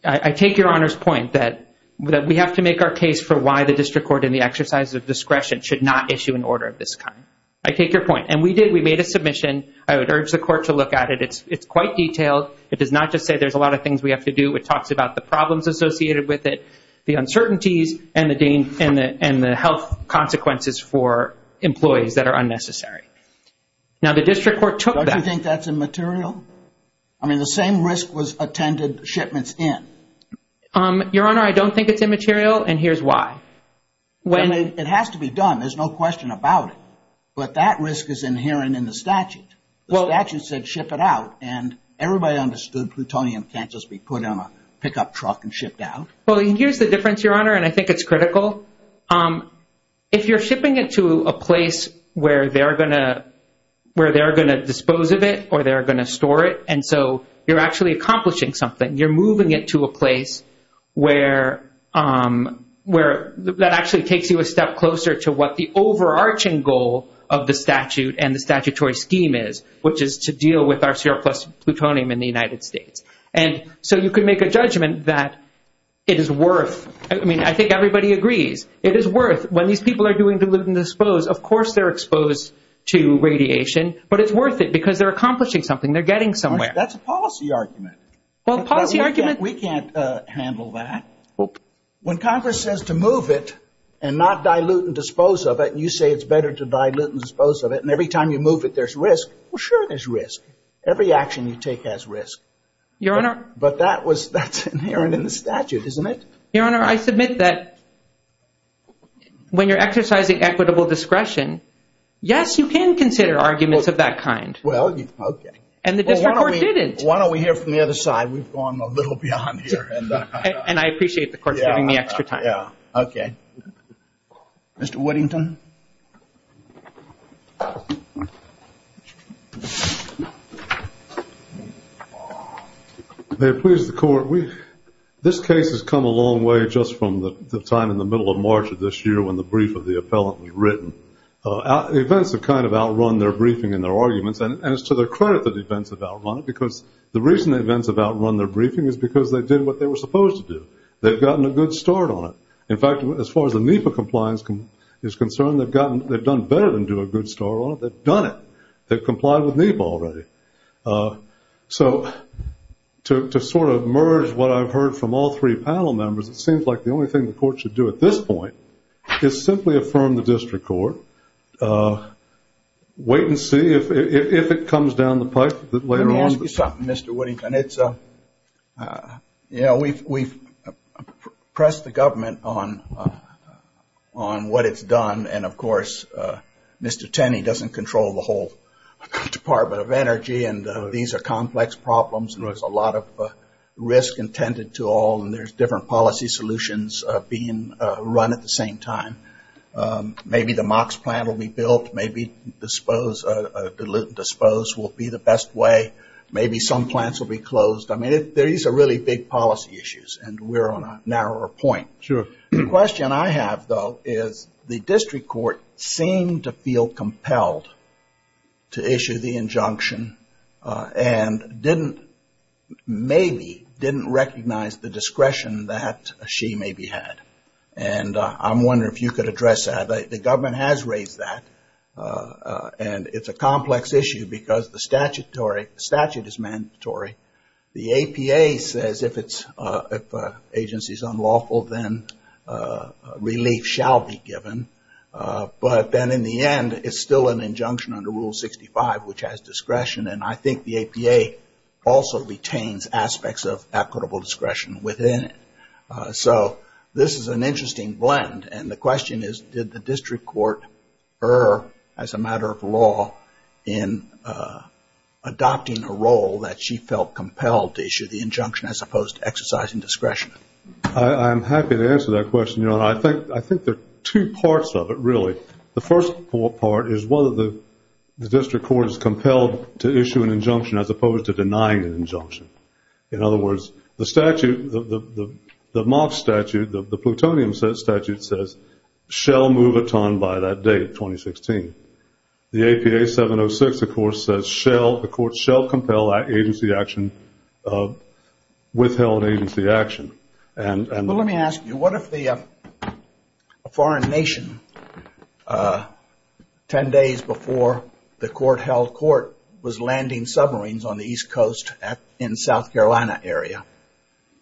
I take your Honor's point that we have to make our case for why the district court in the exercise of discretion should not issue an order of this kind. I take your point, and we did. We made a submission. I would urge the court to look at it. It's quite detailed. It does not just say there's a lot of things we have to do. It talks about the problems associated with it, the uncertainties, and the health consequences for employees that are unnecessary. Now, the district court took that. Don't you think that's immaterial? I mean, the same risk was attended shipments in. Your Honor, I don't think it's immaterial, and here's why. It has to be done. There's no question about it, but that risk is inherent in the statute. Well, it actually said ship it out, and everybody understood plutonium can't just be put on a pickup truck and shipped out. Well, here's the difference, Your Honor, and I think it's critical. If you're shipping it to a place where they're going to dispose of it or they're going to store it, and so you're actually accomplishing something, you're moving it to a place that actually takes you a step closer to what the risk is, which is to deal with our surplus plutonium in the United States. And so you can make a judgment that it is worth, I mean, I think everybody agrees, it is worth when these people are doing dilute and dispose, of course they're exposed to radiation, but it's worth it because they're accomplishing something, they're getting somewhere. That's a policy argument. We can't handle that. When Congress says to move it and not dilute and dispose of it, and you say it's better to dilute and dispose of it, and every time you move it there's risk, well, sure there's risk. Every action you take has risk. Your Honor. But that's inherent in the statute, isn't it? Your Honor, I submit that when you're exercising equitable discretion, yes, you can consider arguments of that kind. Well, okay. And the district court didn't. Why don't we hear from the other side? We've gone a little beyond here. And I appreciate the court giving me extra time. Okay. Mr. Weddington. May it please the Court. This case has come a long way just from the time in the middle of March of this year when the brief of the appellant was written. Events have kind of outrun their briefing and their arguments, and it's to their credit that events have outrun it because the reason events have outrun their briefing is because they did what they were supposed to do. They've gotten a good start on it. In fact, as far as the NEPA compliance is concerned, they've done better than do a good start on it. They've done it. They've complied with NEPA already. So to sort of merge what I've heard from all three panel members, it seems like the only thing the Court should do at this point is simply affirm the district court, wait and see if it comes down the pipe a bit later on. Let me ask you something, Mr. Weddington. You know, we've pressed the government on what it's done, and, of course, Mr. Tenney doesn't control the whole Department of Energy, and these are complex problems, and there's a lot of risk intended to all, and there's different policy solutions being run at the same time. Maybe the MOX plant will be built. Maybe dispose will be the best way. Maybe some plants will be closed. I mean, these are really big policy issues, and we're on a narrower point. Sure. The question I have, though, is the district court seemed to feel compelled to issue the injunction and maybe didn't recognize the discretion that she maybe had, and I'm wondering if you could address that. The government has raised that, and it's a complex issue because the statute is mandatory. The APA says if an agency is unlawful, then relief shall be given, but then in the end it's still an injunction under Rule 65, which has discretion, and I think the APA also retains aspects of equitable discretion within it. So this is an interesting blend, and the question is, did the district court err as a matter of law in adopting a role that she felt compelled to issue the injunction as opposed to exercising discretion? I'm happy to answer that question. I think there are two parts of it, really. The first part is whether the district court is compelled to issue an injunction as opposed to denying an injunction. In other words, the statute, the moth statute, the plutonium statute, says shall move a ton by that date, 2016. The APA 706, of course, says the court shall compel agency action, withheld agency action. Let me ask you, what if a foreign nation 10 days before the court held court was landing submarines on the East Coast in the South Carolina area,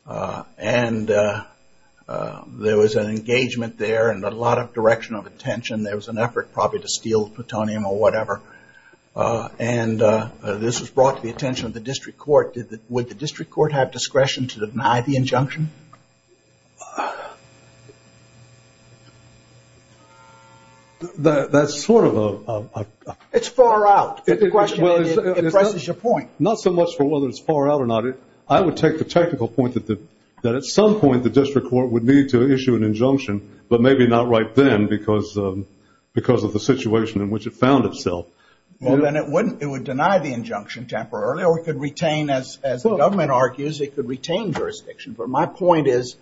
and there was an engagement there and a lot of direction of attention, there was an effort probably to steal plutonium or whatever, and this was brought to the attention of the district court, would the district court have discretion to deny the injunction? That's sort of a... It's far out. It questions your point. Not so much for whether it's far out or not. I would take the technical point that at some point the district court would need to issue an injunction, but maybe not right then because of the situation in which it found itself. Well, then it would deny the injunction temporarily or it could retain, as the government argues, it could retain jurisdiction. But my point is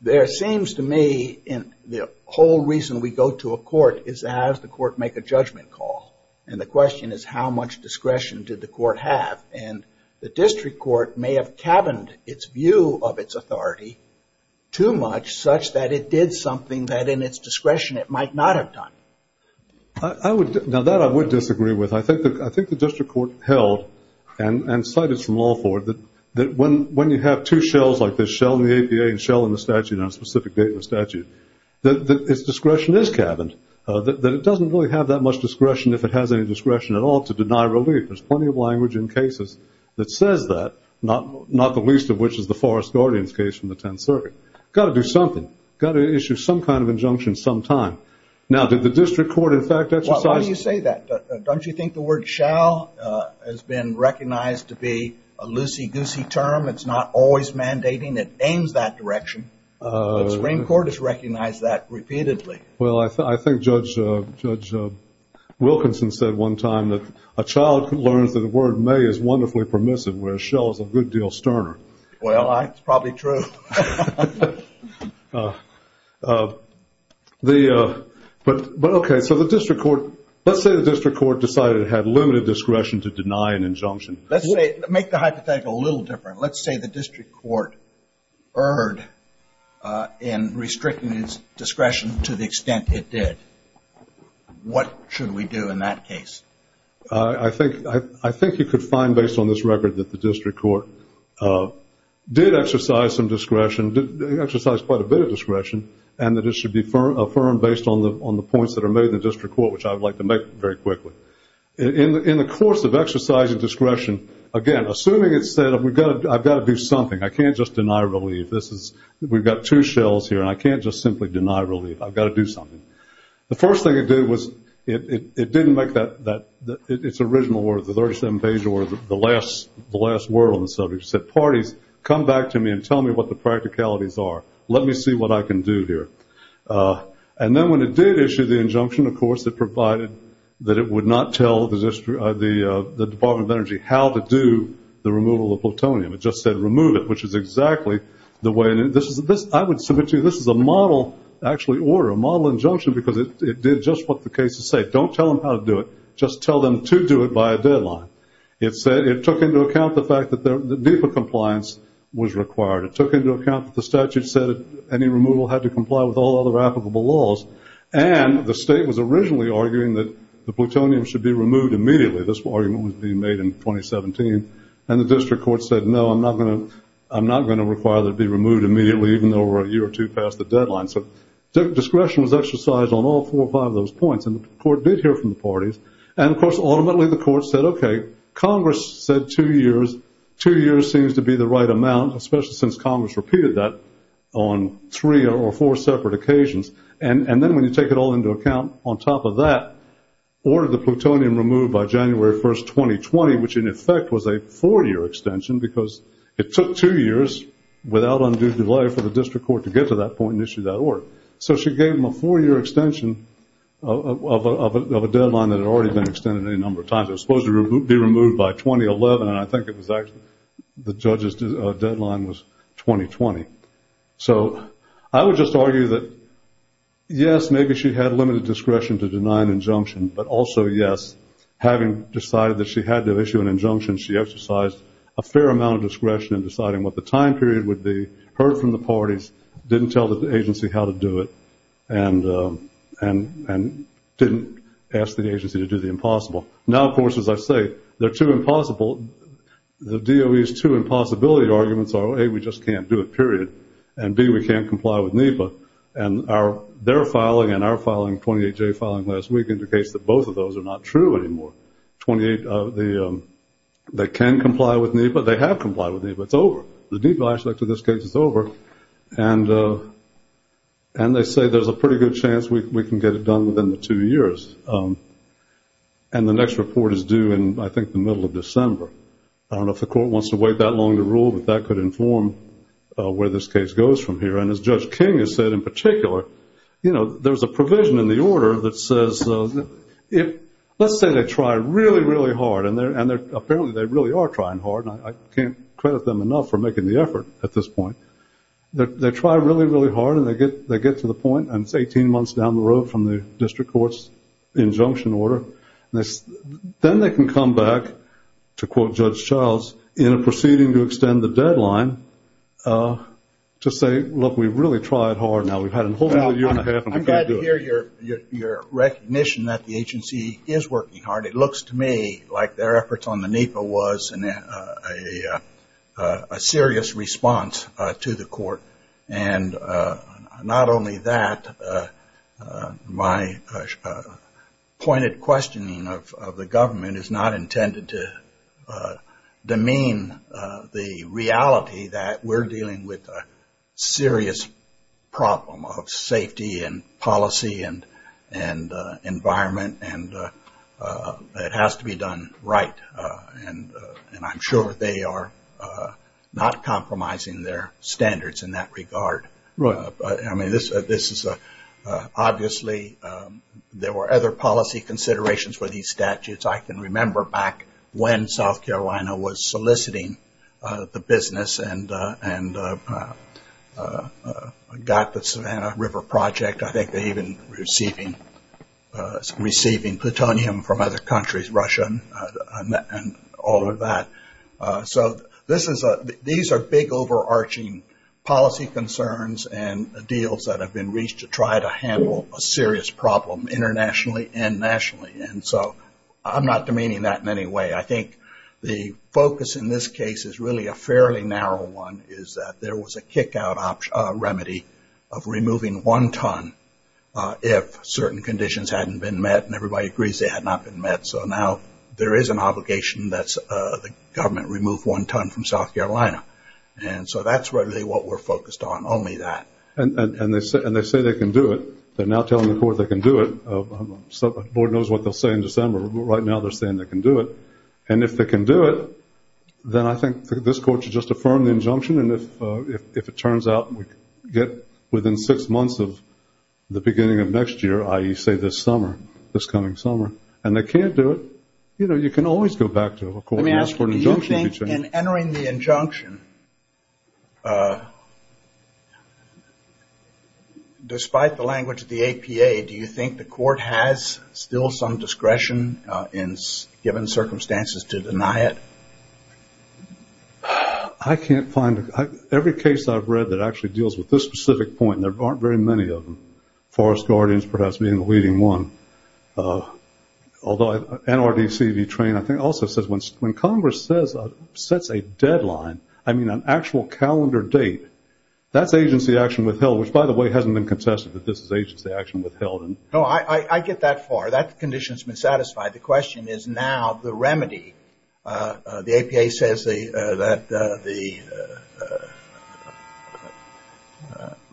there seems to me the whole reason we go to a court is as the court make a judgment call. And the question is how much discretion did the court have? And the district court may have cabined its view of its authority too much such that it did something that in its discretion it might not have done. Now, that I would disagree with. I think the district court held, and cited from law for it, that when you have two shells like this, shell in the APA and shell in the statute that its discretion is cabined, that it doesn't really have that much discretion, if it has any discretion at all, to deny relief. There's plenty of language in cases that says that, not the least of which is the Forest Guardian case from the 10th Circuit. Got to do something. Got to issue some kind of injunction sometime. Now, did the district court in fact exercise that? Well, why do you say that? Don't you think the word shell has been recognized to be a loosey-goosey term? It's not always mandating. It aims that direction. The Supreme Court has recognized that repeatedly. Well, I think Judge Wilkinson said one time that, a child who learns that the word may is wonderfully permissive, where a shell is a good deal sterner. Well, that's probably true. But, okay, so the district court, let's say the district court decided it had limited discretion to deny an injunction. Let's make the hypothetical a little different. Let's say the district court erred in restricting its discretion to the extent it did. What should we do in that case? I think you could find, based on this record, that the district court did exercise some discretion, exercised quite a bit of discretion, and that it should be affirmed based on the points that are made in the district court, which I would like to make very quickly. In the course of exercise of discretion, again, assuming it said, I've got to do something. I can't just deny relief. We've got two shells here, and I can't just simply deny relief. I've got to do something. The first thing it did was it didn't make its original word, the 37 page word, the last word on the subject. It said, party, come back to me and tell me what the practicalities are. Let me see what I can do here. And then when it did issue the injunction, of course, it provided that it would not tell the Department of Energy how to do the removal of plutonium. It just said remove it, which is exactly the way. I would submit to you this is a model, actually, order, a model injunction, because it did just what the case is saying. Don't tell them how to do it. Just tell them to do it by a deadline. It took into account the fact that defund compliance was required. It took into account that the statute said any removal had to comply with all other applicable laws, and the state was originally arguing that the plutonium should be removed immediately. This argument was being made in 2017. And the district court said, no, I'm not going to require that it be removed immediately, even though we're a year or two past the deadline. So discretion was exercised on all four or five of those points. And the court did hear from the parties. And, of course, ultimately the court said, okay, Congress said two years. Two years seems to be the right amount, especially since Congress repeated that on three or four separate occasions. And then when you take it all into account, on top of that, ordered the plutonium removed by January 1, 2020, which in effect was a four-year extension, because it took two years without undue delay for the district court to get to that point and issue that order. So she gave them a four-year extension of a deadline that had already been extended any number of times. It was supposed to be removed by 2011, and I think it was actually the judge's deadline was 2020. So I would just argue that, yes, maybe she had limited discretion to deny an injunction, but also, yes, having decided that she had to issue an injunction, she exercised a fair amount of discretion in deciding what the time period would be, heard from the parties, didn't tell the agency how to do it, and didn't ask the agency to do the impossible. Now, of course, as I say, the two impossible, the DOE's two impossibility arguments are, A, we just can't do it, period, and, B, we can't comply with NEPA. And their filing and our filing, 28J filing last week, indicates that both of those are not true anymore. 28, they can comply with NEPA, they have complied with NEPA, it's over. The NEPA, in this case, it's over. And they say there's a pretty good chance we can get it done within the two years. And the next report is due in, I think, the middle of December. I don't know if the court wants to wait that long to rule, but that could inform where this case goes from here. And as Judge King has said in particular, you know, there's a provision in the order that says, let's say they try really, really hard, and apparently they really are trying hard, and I can't credit them enough for making the effort at this point. They try really, really hard, and they get to the point, and it's 18 months down the road from the district court's injunction order, then they can come back, to quote Judge Charles, in a proceeding to extend the deadline to say, look, we've really tried hard now. We've had a whole year and a half, and we can't do it. I'm glad to hear your recognition that the agency is working hard. It looks to me like their efforts on the NEPA was a serious response to the court. And not only that, my pointed questioning of the government is not intended to demean the reality that we're dealing with a serious problem of safety and policy and environment, and it has to be done right, and I'm sure they are not compromising their standards, in that regard. Right. I mean, this is obviously, there were other policy considerations for these statutes. I can remember back when South Carolina was soliciting the business and got the Savannah River Project. I think they even receiving plutonium from other countries, Russia, and all of that. So these are big, overarching policy concerns and deals that have been reached to try to handle a serious problem internationally and nationally, and so I'm not demeaning that in any way. I think the focus in this case is really a fairly narrow one, is that there was a kick-out remedy of removing one ton if certain conditions hadn't been met, and everybody agrees they had not been met. So now there is an obligation that the government remove one ton from South Carolina, and so that's really what we're focused on, only that. And they say they can do it. They're now telling the court they can do it. The board knows what they'll say in December, but right now they're saying they can do it. And if they can do it, then I think this court should just affirm the injunction, and if it turns out we get within six months of the beginning of next year, i.e., say this summer, this coming summer, and they can't do it, you know, you can always go back to a court and ask for an injunction. Do you think in entering the injunction, despite the language of the APA, do you think the court has still some discretion in given circumstances to deny it? I can't find it. Every case I've read that actually deals with this specific point, and there aren't very many of them, Forest Guardians perhaps being the leading one. Although NRDC, the training, I think also says when Congress sets a deadline, I mean an actual calendar date, that's agency action withheld, which, by the way, hasn't been concessive that this is agency action withheld. No, I get that far. That condition's been satisfied. The question is now the remedy. The APA says that the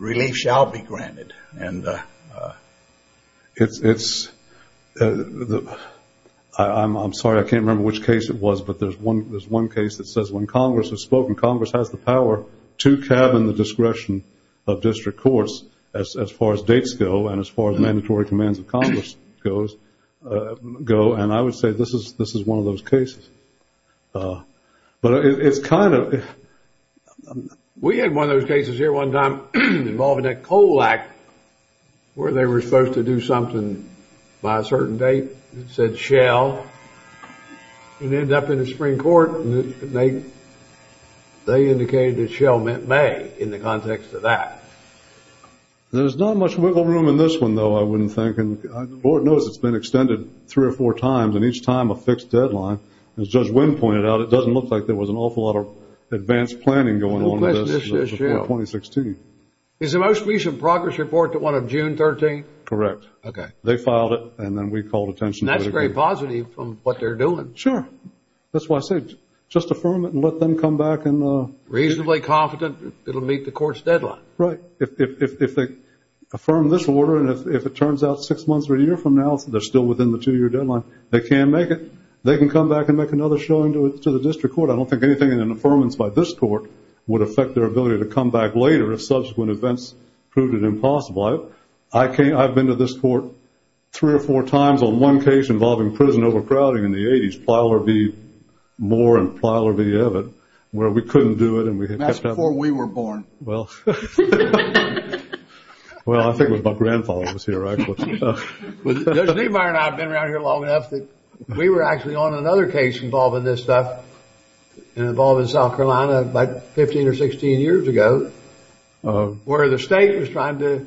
relief shall be granted. I'm sorry, I can't remember which case it was, but there's one case that says when Congress has spoken, Congress has the power to cabin the discretion of district courts as far as dates go and as far as mandatory commands of Congress go, and I would say this is one of those cases. But it's kind of, we had one of those cases here one time involving a COLAC where they were supposed to do something by a certain date that said shall, and ended up in the Supreme Court, and they indicated that shall meant may in the context of that. There's not much wiggle room in this one, though, I wouldn't think, and the board knows it's been extended three or four times, and each time a fixed deadline. As Judge Wynn pointed out, it doesn't look like there was an awful lot of advanced planning going on with this until 2016. Is the most recent progress report the one of June 13th? Correct. They filed it, and then we called attention to it. That's very positive from what they're doing. Sure. That's why I say just affirm it and let them come back. Reasonably confident it'll meet the court's deadline. Right. If they affirm this order, and if it turns out six months or a year from now, they're still within the two-year deadline, they can't make it. They can come back and make another showing to the district court. I don't think anything in an affirmance by this court would affect their ability to come back later if subsequent events proved it impossible. I've been to this court three or four times on one case involving prison overcrowding in the 80s, Plyler v. Moore and Plyler v. Evatt, where we couldn't do it. That's before we were born. Well, I think it was my grandfather who was here. Evatt and I have been around here long enough that we were actually on another case involving this stuff and involved in South Carolina like 15 or 16 years ago, where the state was trying to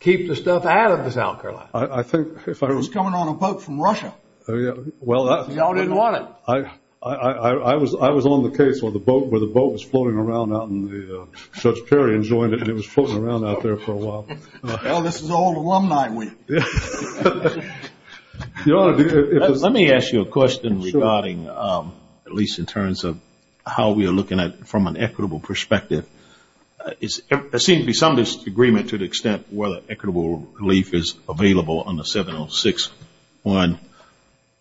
keep the stuff out of the South Carolina. I think if I was coming on a boat from Russia. You all didn't want it. I was on the case where the boat was floating around out in the South Carolina and it was floating around out there for a while. Well, this is old alumni week. Let me ask you a question regarding, at least in terms of how we are looking at it from an equitable perspective. There seems to be some disagreement to the extent whether equitable relief is available on the 706 one,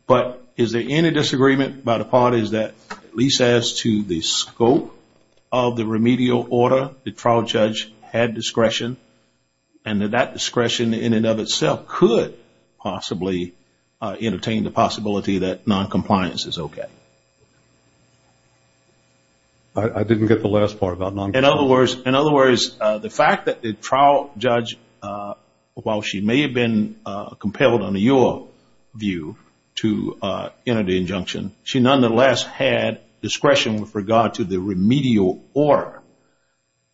but is there any disagreement by the parties that at least as to the scope of the remedial order, the trial judge had discretion and that that discretion in and of itself could possibly entertain the possibility that noncompliance is okay? I didn't get the last part about noncompliance. In other words, the fact that the trial judge, while she may have been compelled under your view to enter the injunction, she nonetheless had discretion with regard to the remedial order,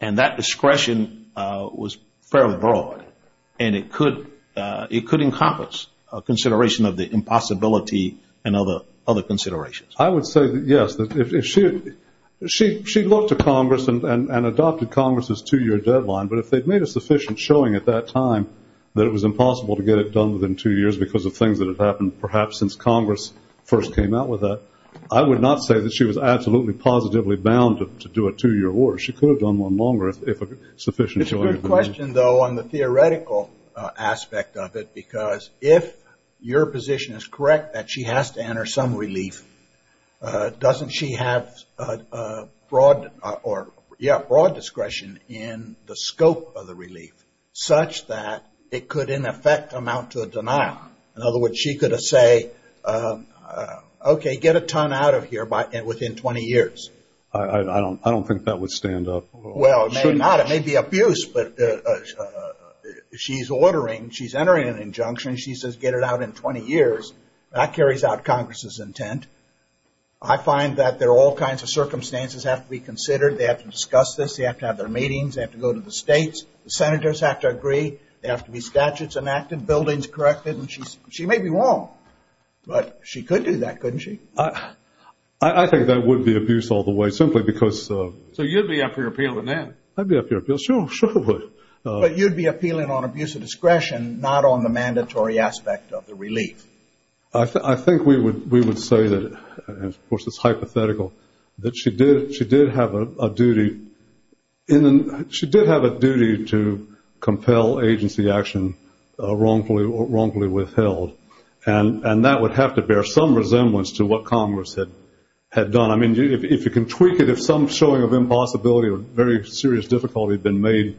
and that discretion was fairly broad, and it could encompass a consideration of the impossibility and other considerations. I would say that yes. She looked to Congress and adopted Congress' two-year deadline, but if they'd made a sufficient showing at that time that it was impossible to get it done within two years because of things that have happened perhaps since Congress first came out with that, I would not say that she was absolutely positively bound to do a two-year award. She could have done one longer if a sufficient showing had been made. It's a good question, though, on the theoretical aspect of it because if your position is correct that she has to enter some relief, doesn't she have broad discretion in the scope of the relief such that it could in effect amount to a denial? In other words, she could have said, okay, get a ton out of here within 20 years. I don't think that would stand up. Well, it may not. It may be abuse, but she's ordering. She's entering an injunction. She says get it out in 20 years. That carries out Congress' intent. I find that there are all kinds of circumstances that have to be considered. They have to discuss this. They have to have their meetings. They have to go to the states. The senators have to agree. There have to be statutes enacted, buildings corrected, and she may be wrong, but she could do that, couldn't she? I think that would be abuse all the way simply because— So you'd be up here appealing then? I'd be up here appealing. Sure, sure. But you'd be appealing on abuse of discretion, not on the mandatory aspect of the relief. I think we would say that, of course, it's hypothetical, that she did have a duty to compel agency action wrongfully withheld, and that would have to bear some resemblance to what Congress had done. I mean, if you can tweak it, if some showing of impossibility or very serious difficulty had been made,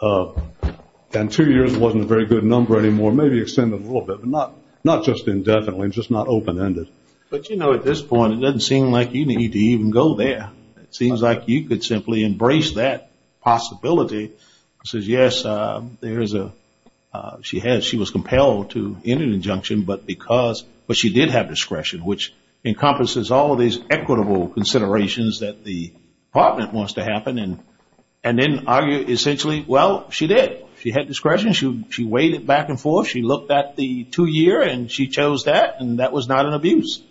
and two years wasn't a very good number anymore, maybe extend it a little bit, but not just indefinitely, just not open-ended. But, you know, at this point, it doesn't seem like you need to even go there. It seems like you could simply embrace that possibility. It says, yes, she was compelled to enter an injunction, but she did have discretion, which encompasses all of these equitable considerations that the department wants to happen, and then argue essentially, well, she did. She had discretion. She weighed it back and forth. She looked at the two-year, and she chose that, and that was not an abuse.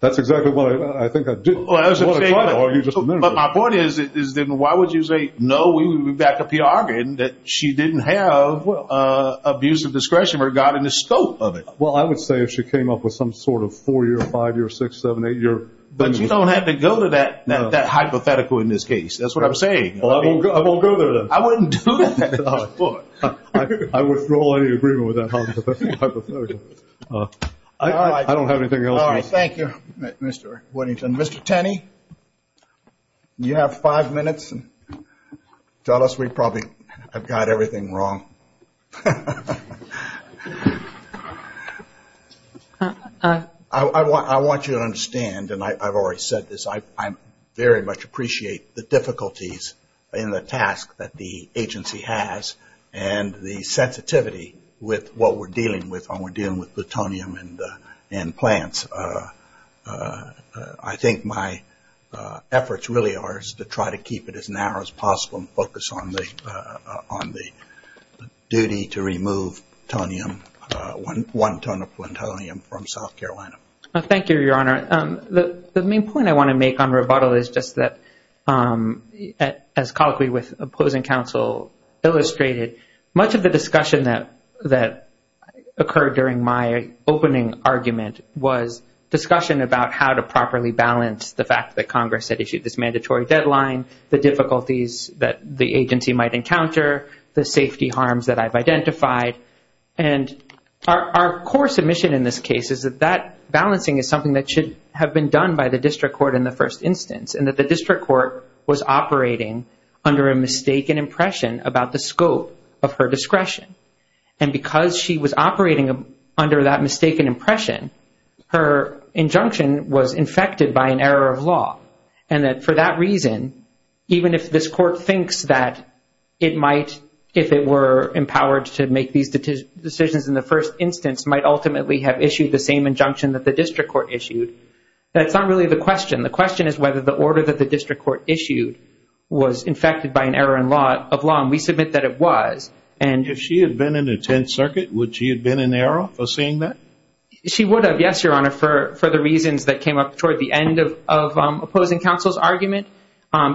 That's exactly what I think I did. Well, I was going to say— Well, you just admitted it. But my point is, why would you say, no, we would back up the argument that she didn't have abuse of discretion regarding the scope of it? Well, I would say if she came up with some sort of four-year, five-year, six, seven, eight-year— But you don't have to go to that hypothetical in this case. That's what I'm saying. I won't go to that. I wouldn't do that. I wouldn't draw any agreement with that hypothetical. I don't have anything else. All right. Thank you, Mr. Whittington. Mr. Tenney, you have five minutes. Tell us we probably have got everything wrong. I want you to understand, and I've already said this, I very much appreciate the difficulties in the task that the agency has and the sensitivity with what we're dealing with when we're dealing with plutonium and plants. I think my efforts really are to try to keep it as narrow as possible and focus on the duty to remove plutonium, one ton of plutonium, from South Carolina. Thank you, Your Honor. The main point I want to make on rebuttal is just that, as colloquially with opposing counsel illustrated, much of the discussion that occurred during my opening argument was discussion about how to properly balance the fact that Congress had issued this mandatory deadline, the difficulties that the agency might encounter, the safety harms that I've identified. Our core submission in this case is that that balancing is something that should have been done by the district court in the first instance and that the district court was operating under a mistaken impression about the scope of her discretion. Because she was operating under that mistaken impression, her injunction was infected by an error of law. For that reason, even if this court thinks that it might, if it were empowered to make these decisions in the first instance, might ultimately have issued the same injunction that the district court issued, that's not really the question. The question is whether the order that the district court issued was infected by an error of law, and we submit that it was. If she had been in the Tenth Circuit, would she have been in error of saying that? She would have, yes, Your Honor, for the reasons that came up toward the end of opposing counsel's argument.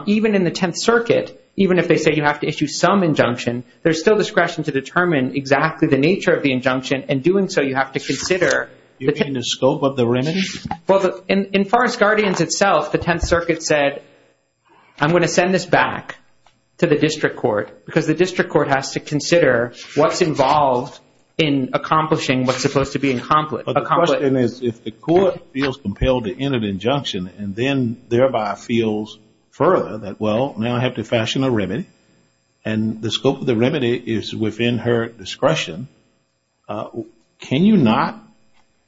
Even in the Tenth Circuit, even if they say you have to issue some injunction, there's still discretion to determine exactly the nature of the injunction, and in doing so you have to consider You mean the scope of the remedy? Well, in Forest Guardians itself, the Tenth Circuit said I'm going to send this back to the district court because the district court has to consider what's involved in accomplishing what's supposed to be accomplished. But the question is if the court feels compelled to end an injunction and then thereby feels further that, well, now I have to fashion a remedy, and the scope of the remedy is within her discretion, can you not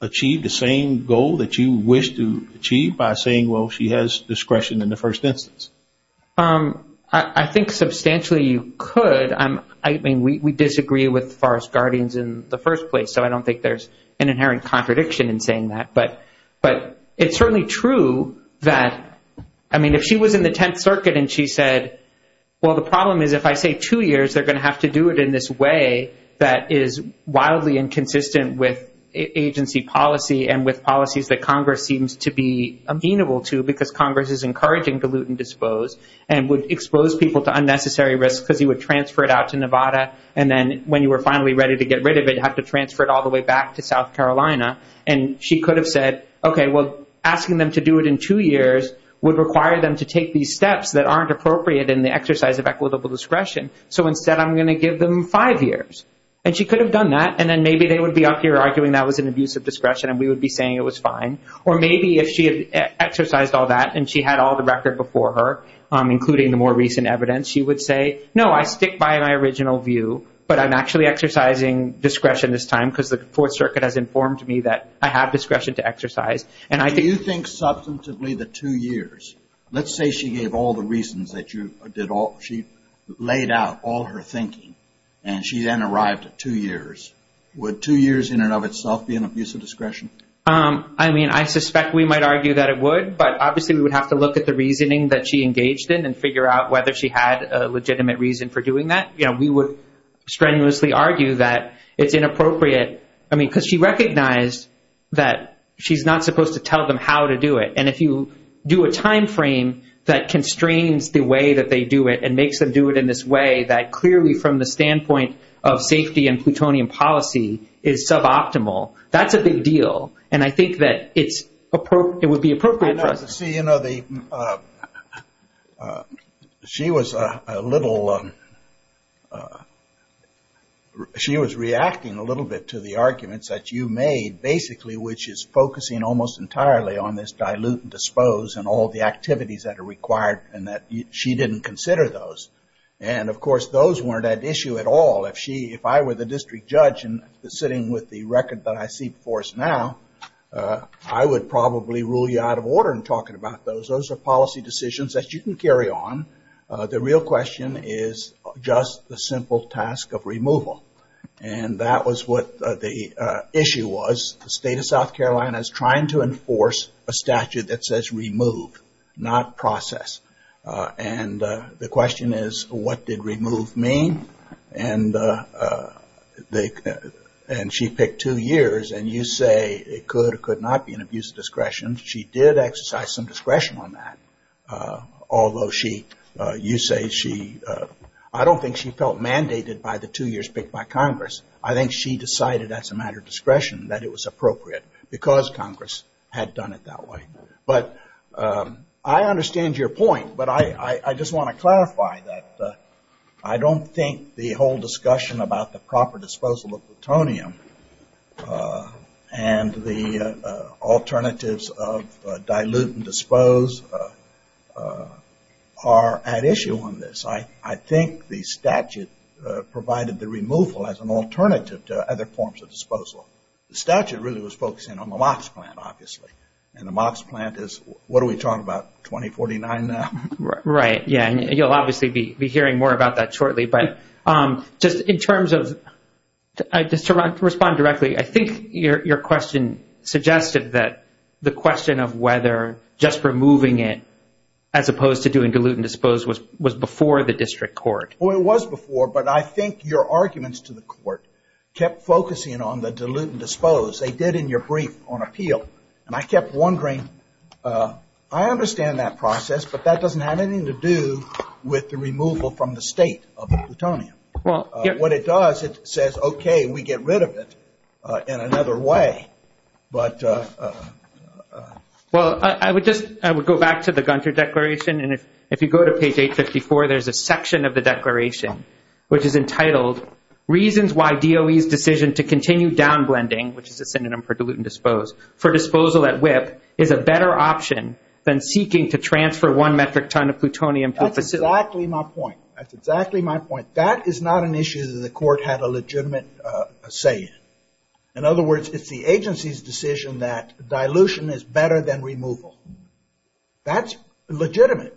achieve the same goal that you wish to achieve by saying, well, she has discretion in the first instance? I think substantially you could. I mean, we disagree with Forest Guardians in the first place, so I don't think there's an inherent contradiction in saying that. But it's certainly true that, I mean, if she was in the Tenth Circuit and she said, well, the problem is if I take two years, they're going to have to do it in this way that is wildly inconsistent with agency policy and with policies that Congress seems to be amenable to because Congress is encouraging dilute and dispose and would expose people to unnecessary risk because you would transfer it out to Nevada, and then when you were finally ready to get rid of it, you'd have to transfer it all the way back to South Carolina. And she could have said, okay, well, asking them to do it in two years would require them to take these steps that aren't appropriate in the exercise of equitable discretion, so instead I'm going to give them five years. And she could have done that, and then maybe they would be out there arguing that was an abuse of discretion, and we would be saying it was fine. Or maybe if she had exercised all that and she had all the record before her, including the more recent evidence, she would say, no, I stick by my original view, but I'm actually exercising discretion this time because the Fourth Circuit has informed me that I have discretion to exercise. Do you think substantively the two years, let's say she gave all the reasons that you did all, she laid out all her thinking, and she then arrived at two years. Would two years in and of itself be an abuse of discretion? I mean, I suspect we might argue that it would, but obviously we would have to look at the reasoning that she engaged in and figure out whether she had a legitimate reason for doing that. You know, we would strenuously argue that it's inappropriate, I mean, because she recognized that she's not supposed to tell them how to do it. And if you do a timeframe that constrains the way that they do it and makes them do it in this way, that clearly from the standpoint of safety and plutonium policy is suboptimal, that's a big deal. And I think that it would be appropriate for her. You know, she was reacting a little bit to the arguments that you made, basically, which is focusing almost entirely on this dilute and dispose and all the activities that are required and that she didn't consider those. And, of course, those weren't an issue at all. If I were the district judge sitting with the record that I see before us now, I would probably rule you out of order in talking about those. Those are policy decisions that you can carry on. The real question is just the simple task of removal. And that was what the issue was. The state of South Carolina is trying to enforce a statute that says remove, not process. And the question is, what did remove mean? And she picked two years. And you say it could or could not be an abuse of discretion. She did exercise some discretion on that, although she, you say she, I don't think she felt mandated by the two years picked by Congress. I think she decided as a matter of discretion that it was appropriate because Congress had done it that way. But I understand your point, but I just want to clarify that. I don't think the whole discussion about the proper disposal of plutonium and the alternatives of dilute and dispose are at issue on this. I think the statute provided the removal as an alternative to other forms of disposal. The statute really was focusing on the MOX plant, obviously. And the MOX plant is, what are we talking about, 2049 now? Right, yeah. And you'll obviously be hearing more about that shortly. But in terms of, to respond directly, I think your question suggested that the question of whether just removing it as opposed to doing dilute and dispose was before the district court. Well, it was before, but I think your arguments to the court kept focusing on the dilute and dispose. They did in your brief on appeal. And I kept wondering, I understand that process, but that doesn't have anything to do with the removal from the state of plutonium. What it does, it says, okay, we get rid of it in another way. Well, I would go back to the Gunther Declaration. And if you go to page 854, there's a section of the declaration which is entitled, Reasons why DOE's decision to continue downblending, which is a synonym for dilute and dispose, for disposal at WIPP is a better option than seeking to transfer one metric ton of plutonium to a facility. That's exactly my point. That's exactly my point. That is not an issue that the court had a legitimate say in. In other words, it's the agency's decision that dilution is better than removal. That's legitimate.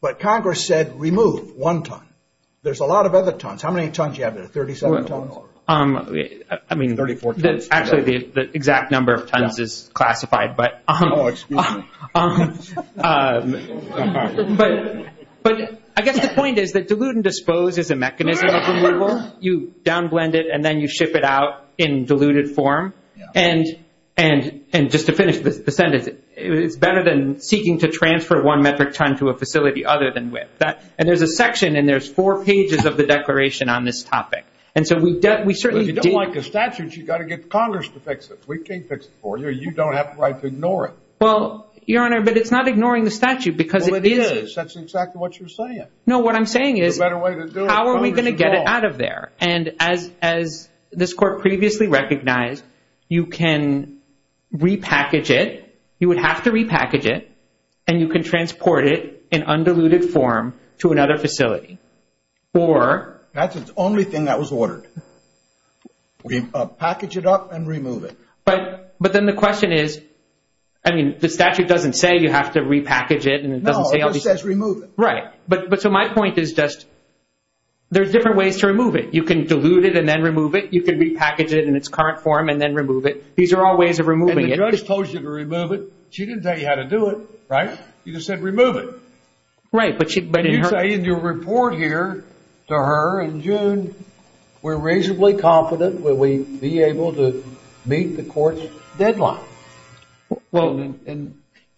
But Congress said remove one ton. There's a lot of other tons. How many tons do you have there, 37 tons? I mean, 34 tons. Actually, the exact number of tons is classified. Oh, excuse me. I guess the point is that dilute and dispose is a mechanism of removal. You downblend it and then you ship it out in diluted form. And just to finish the sentence, it's better than seeking to transfer one metric ton to a facility other than WIPP. And there's a section and there's four pages of the declaration on this topic. If you don't like the statute, you've got to get Congress to fix it. We can't fix it for you. You don't have the right to ignore it. Well, Your Honor, but it's not ignoring the statute because it is. That's exactly what you're saying. No, what I'm saying is how are we going to get it out of there? And as this court previously recognized, you can repackage it, you would have to repackage it, and you can transport it in undiluted form to another facility. That's the only thing that was ordered. Package it up and remove it. But then the question is, I mean, the statute doesn't say you have to repackage it. No, it just says remove it. Right. But so my point is just there's different ways to remove it. You can dilute it and then remove it. You can repackage it in its current form and then remove it. These are all ways of removing it. Your Honor just told you to remove it. She didn't tell you how to do it, right? You just said remove it. Right. But you say in your report here to her in June, we're reasonably confident that we'll be able to meet the court's deadline.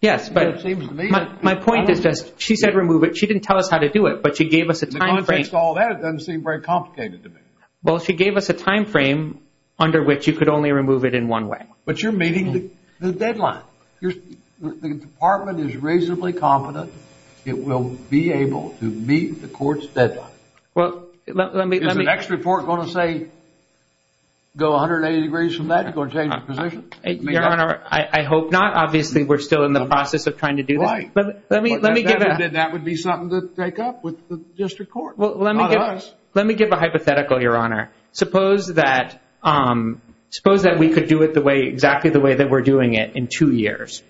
Yes, but my point is just she said remove it. She didn't tell us how to do it, but she gave us a timeframe. In the context of all that, it doesn't seem very complicated to me. Well, she gave us a timeframe under which you could only remove it in one way. But you're meeting the deadline. The department is reasonably confident it will be able to meet the court's deadline. Is the next report going to say go 180 degrees from that? It's going to change the position? Your Honor, I hope not. Obviously, we're still in the process of trying to do that. Right. Then that would be something to take up with the district court, not us. Let me give a hypothetical, Your Honor. Suppose that we could do it exactly the way that we're doing it in two years.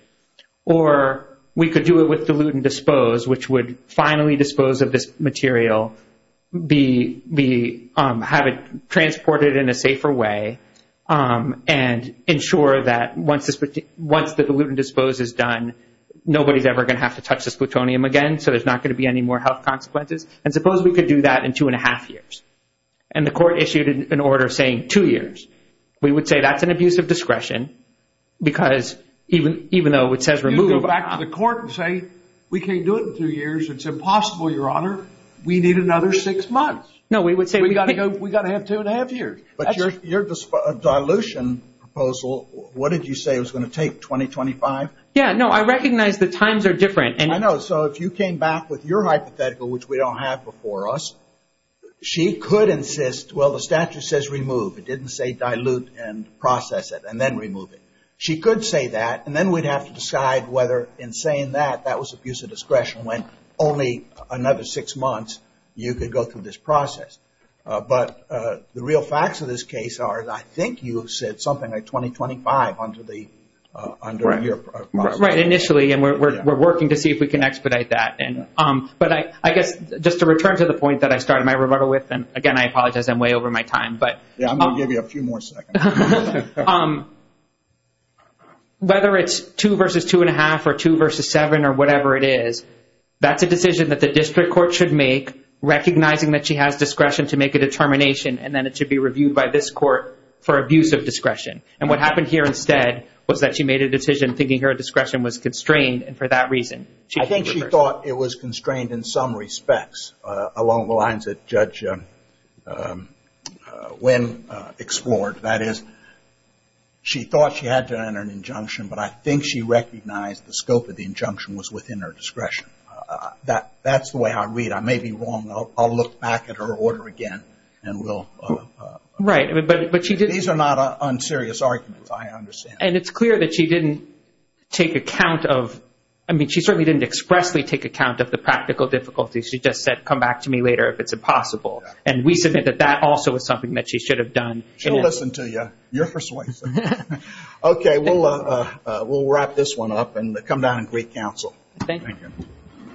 Or we could do it with dilute and dispose, which would finally dispose of this material, have it transported in a safer way, and ensure that once the dilute and dispose is done, nobody's ever going to have to touch this plutonium again, so there's not going to be any more health consequences. And suppose we could do that in two and a half years. And the court issued an order saying two years. We would say that's an abuse of discretion, because even though it says remove. You go back to the court and say, we can't do it in two years. It's impossible, Your Honor. We need another six months. No, we would say. We've got to have two and a half years. But your dilution proposal, what did you say was going to take, 2025? Yeah, no, I recognize the times are different. I know. So if you came back with your hypothetical, which we don't have before us, she could insist, well, the statute says remove. It didn't say dilute and process it and then remove it. She could say that, and then we'd have to decide whether in saying that, that was abuse of discretion when only another six months you could go through this process. But the real facts of this case are, I think you said something like 2025 under your process. Right, initially, and we're working to see if we can expedite that. But I guess just to return to the point that I started my rebuttal with, and, again, I apologize, I'm way over my time. Yeah, I'm going to give you a few more seconds. Whether it's two versus two and a half or two versus seven or whatever it is, that's a decision that the district court should make, recognizing that she has discretion to make a determination, and then it should be reviewed by this court for abuse of discretion. And what happened here instead was that she made a decision thinking her discretion was constrained, and for that reason. I think she thought it was constrained in some respects along the lines that Judge Wynn explored. That is, she thought she had to enter an injunction, but I think she recognized the scope of the injunction was within her discretion. That's the way I read it. I may be wrong. I'll look back at her order again. Right, but these are not unserious arguments, I understand. And it's clear that she didn't take account of, I mean she certainly didn't expressly take account of the practical difficulties. She just said, come back to me later if it's impossible. And we submit that that also was something that she should have done. She'll listen to you. You're persuasive. Okay, we'll wrap this one up and come down and greet counsel. Thank you.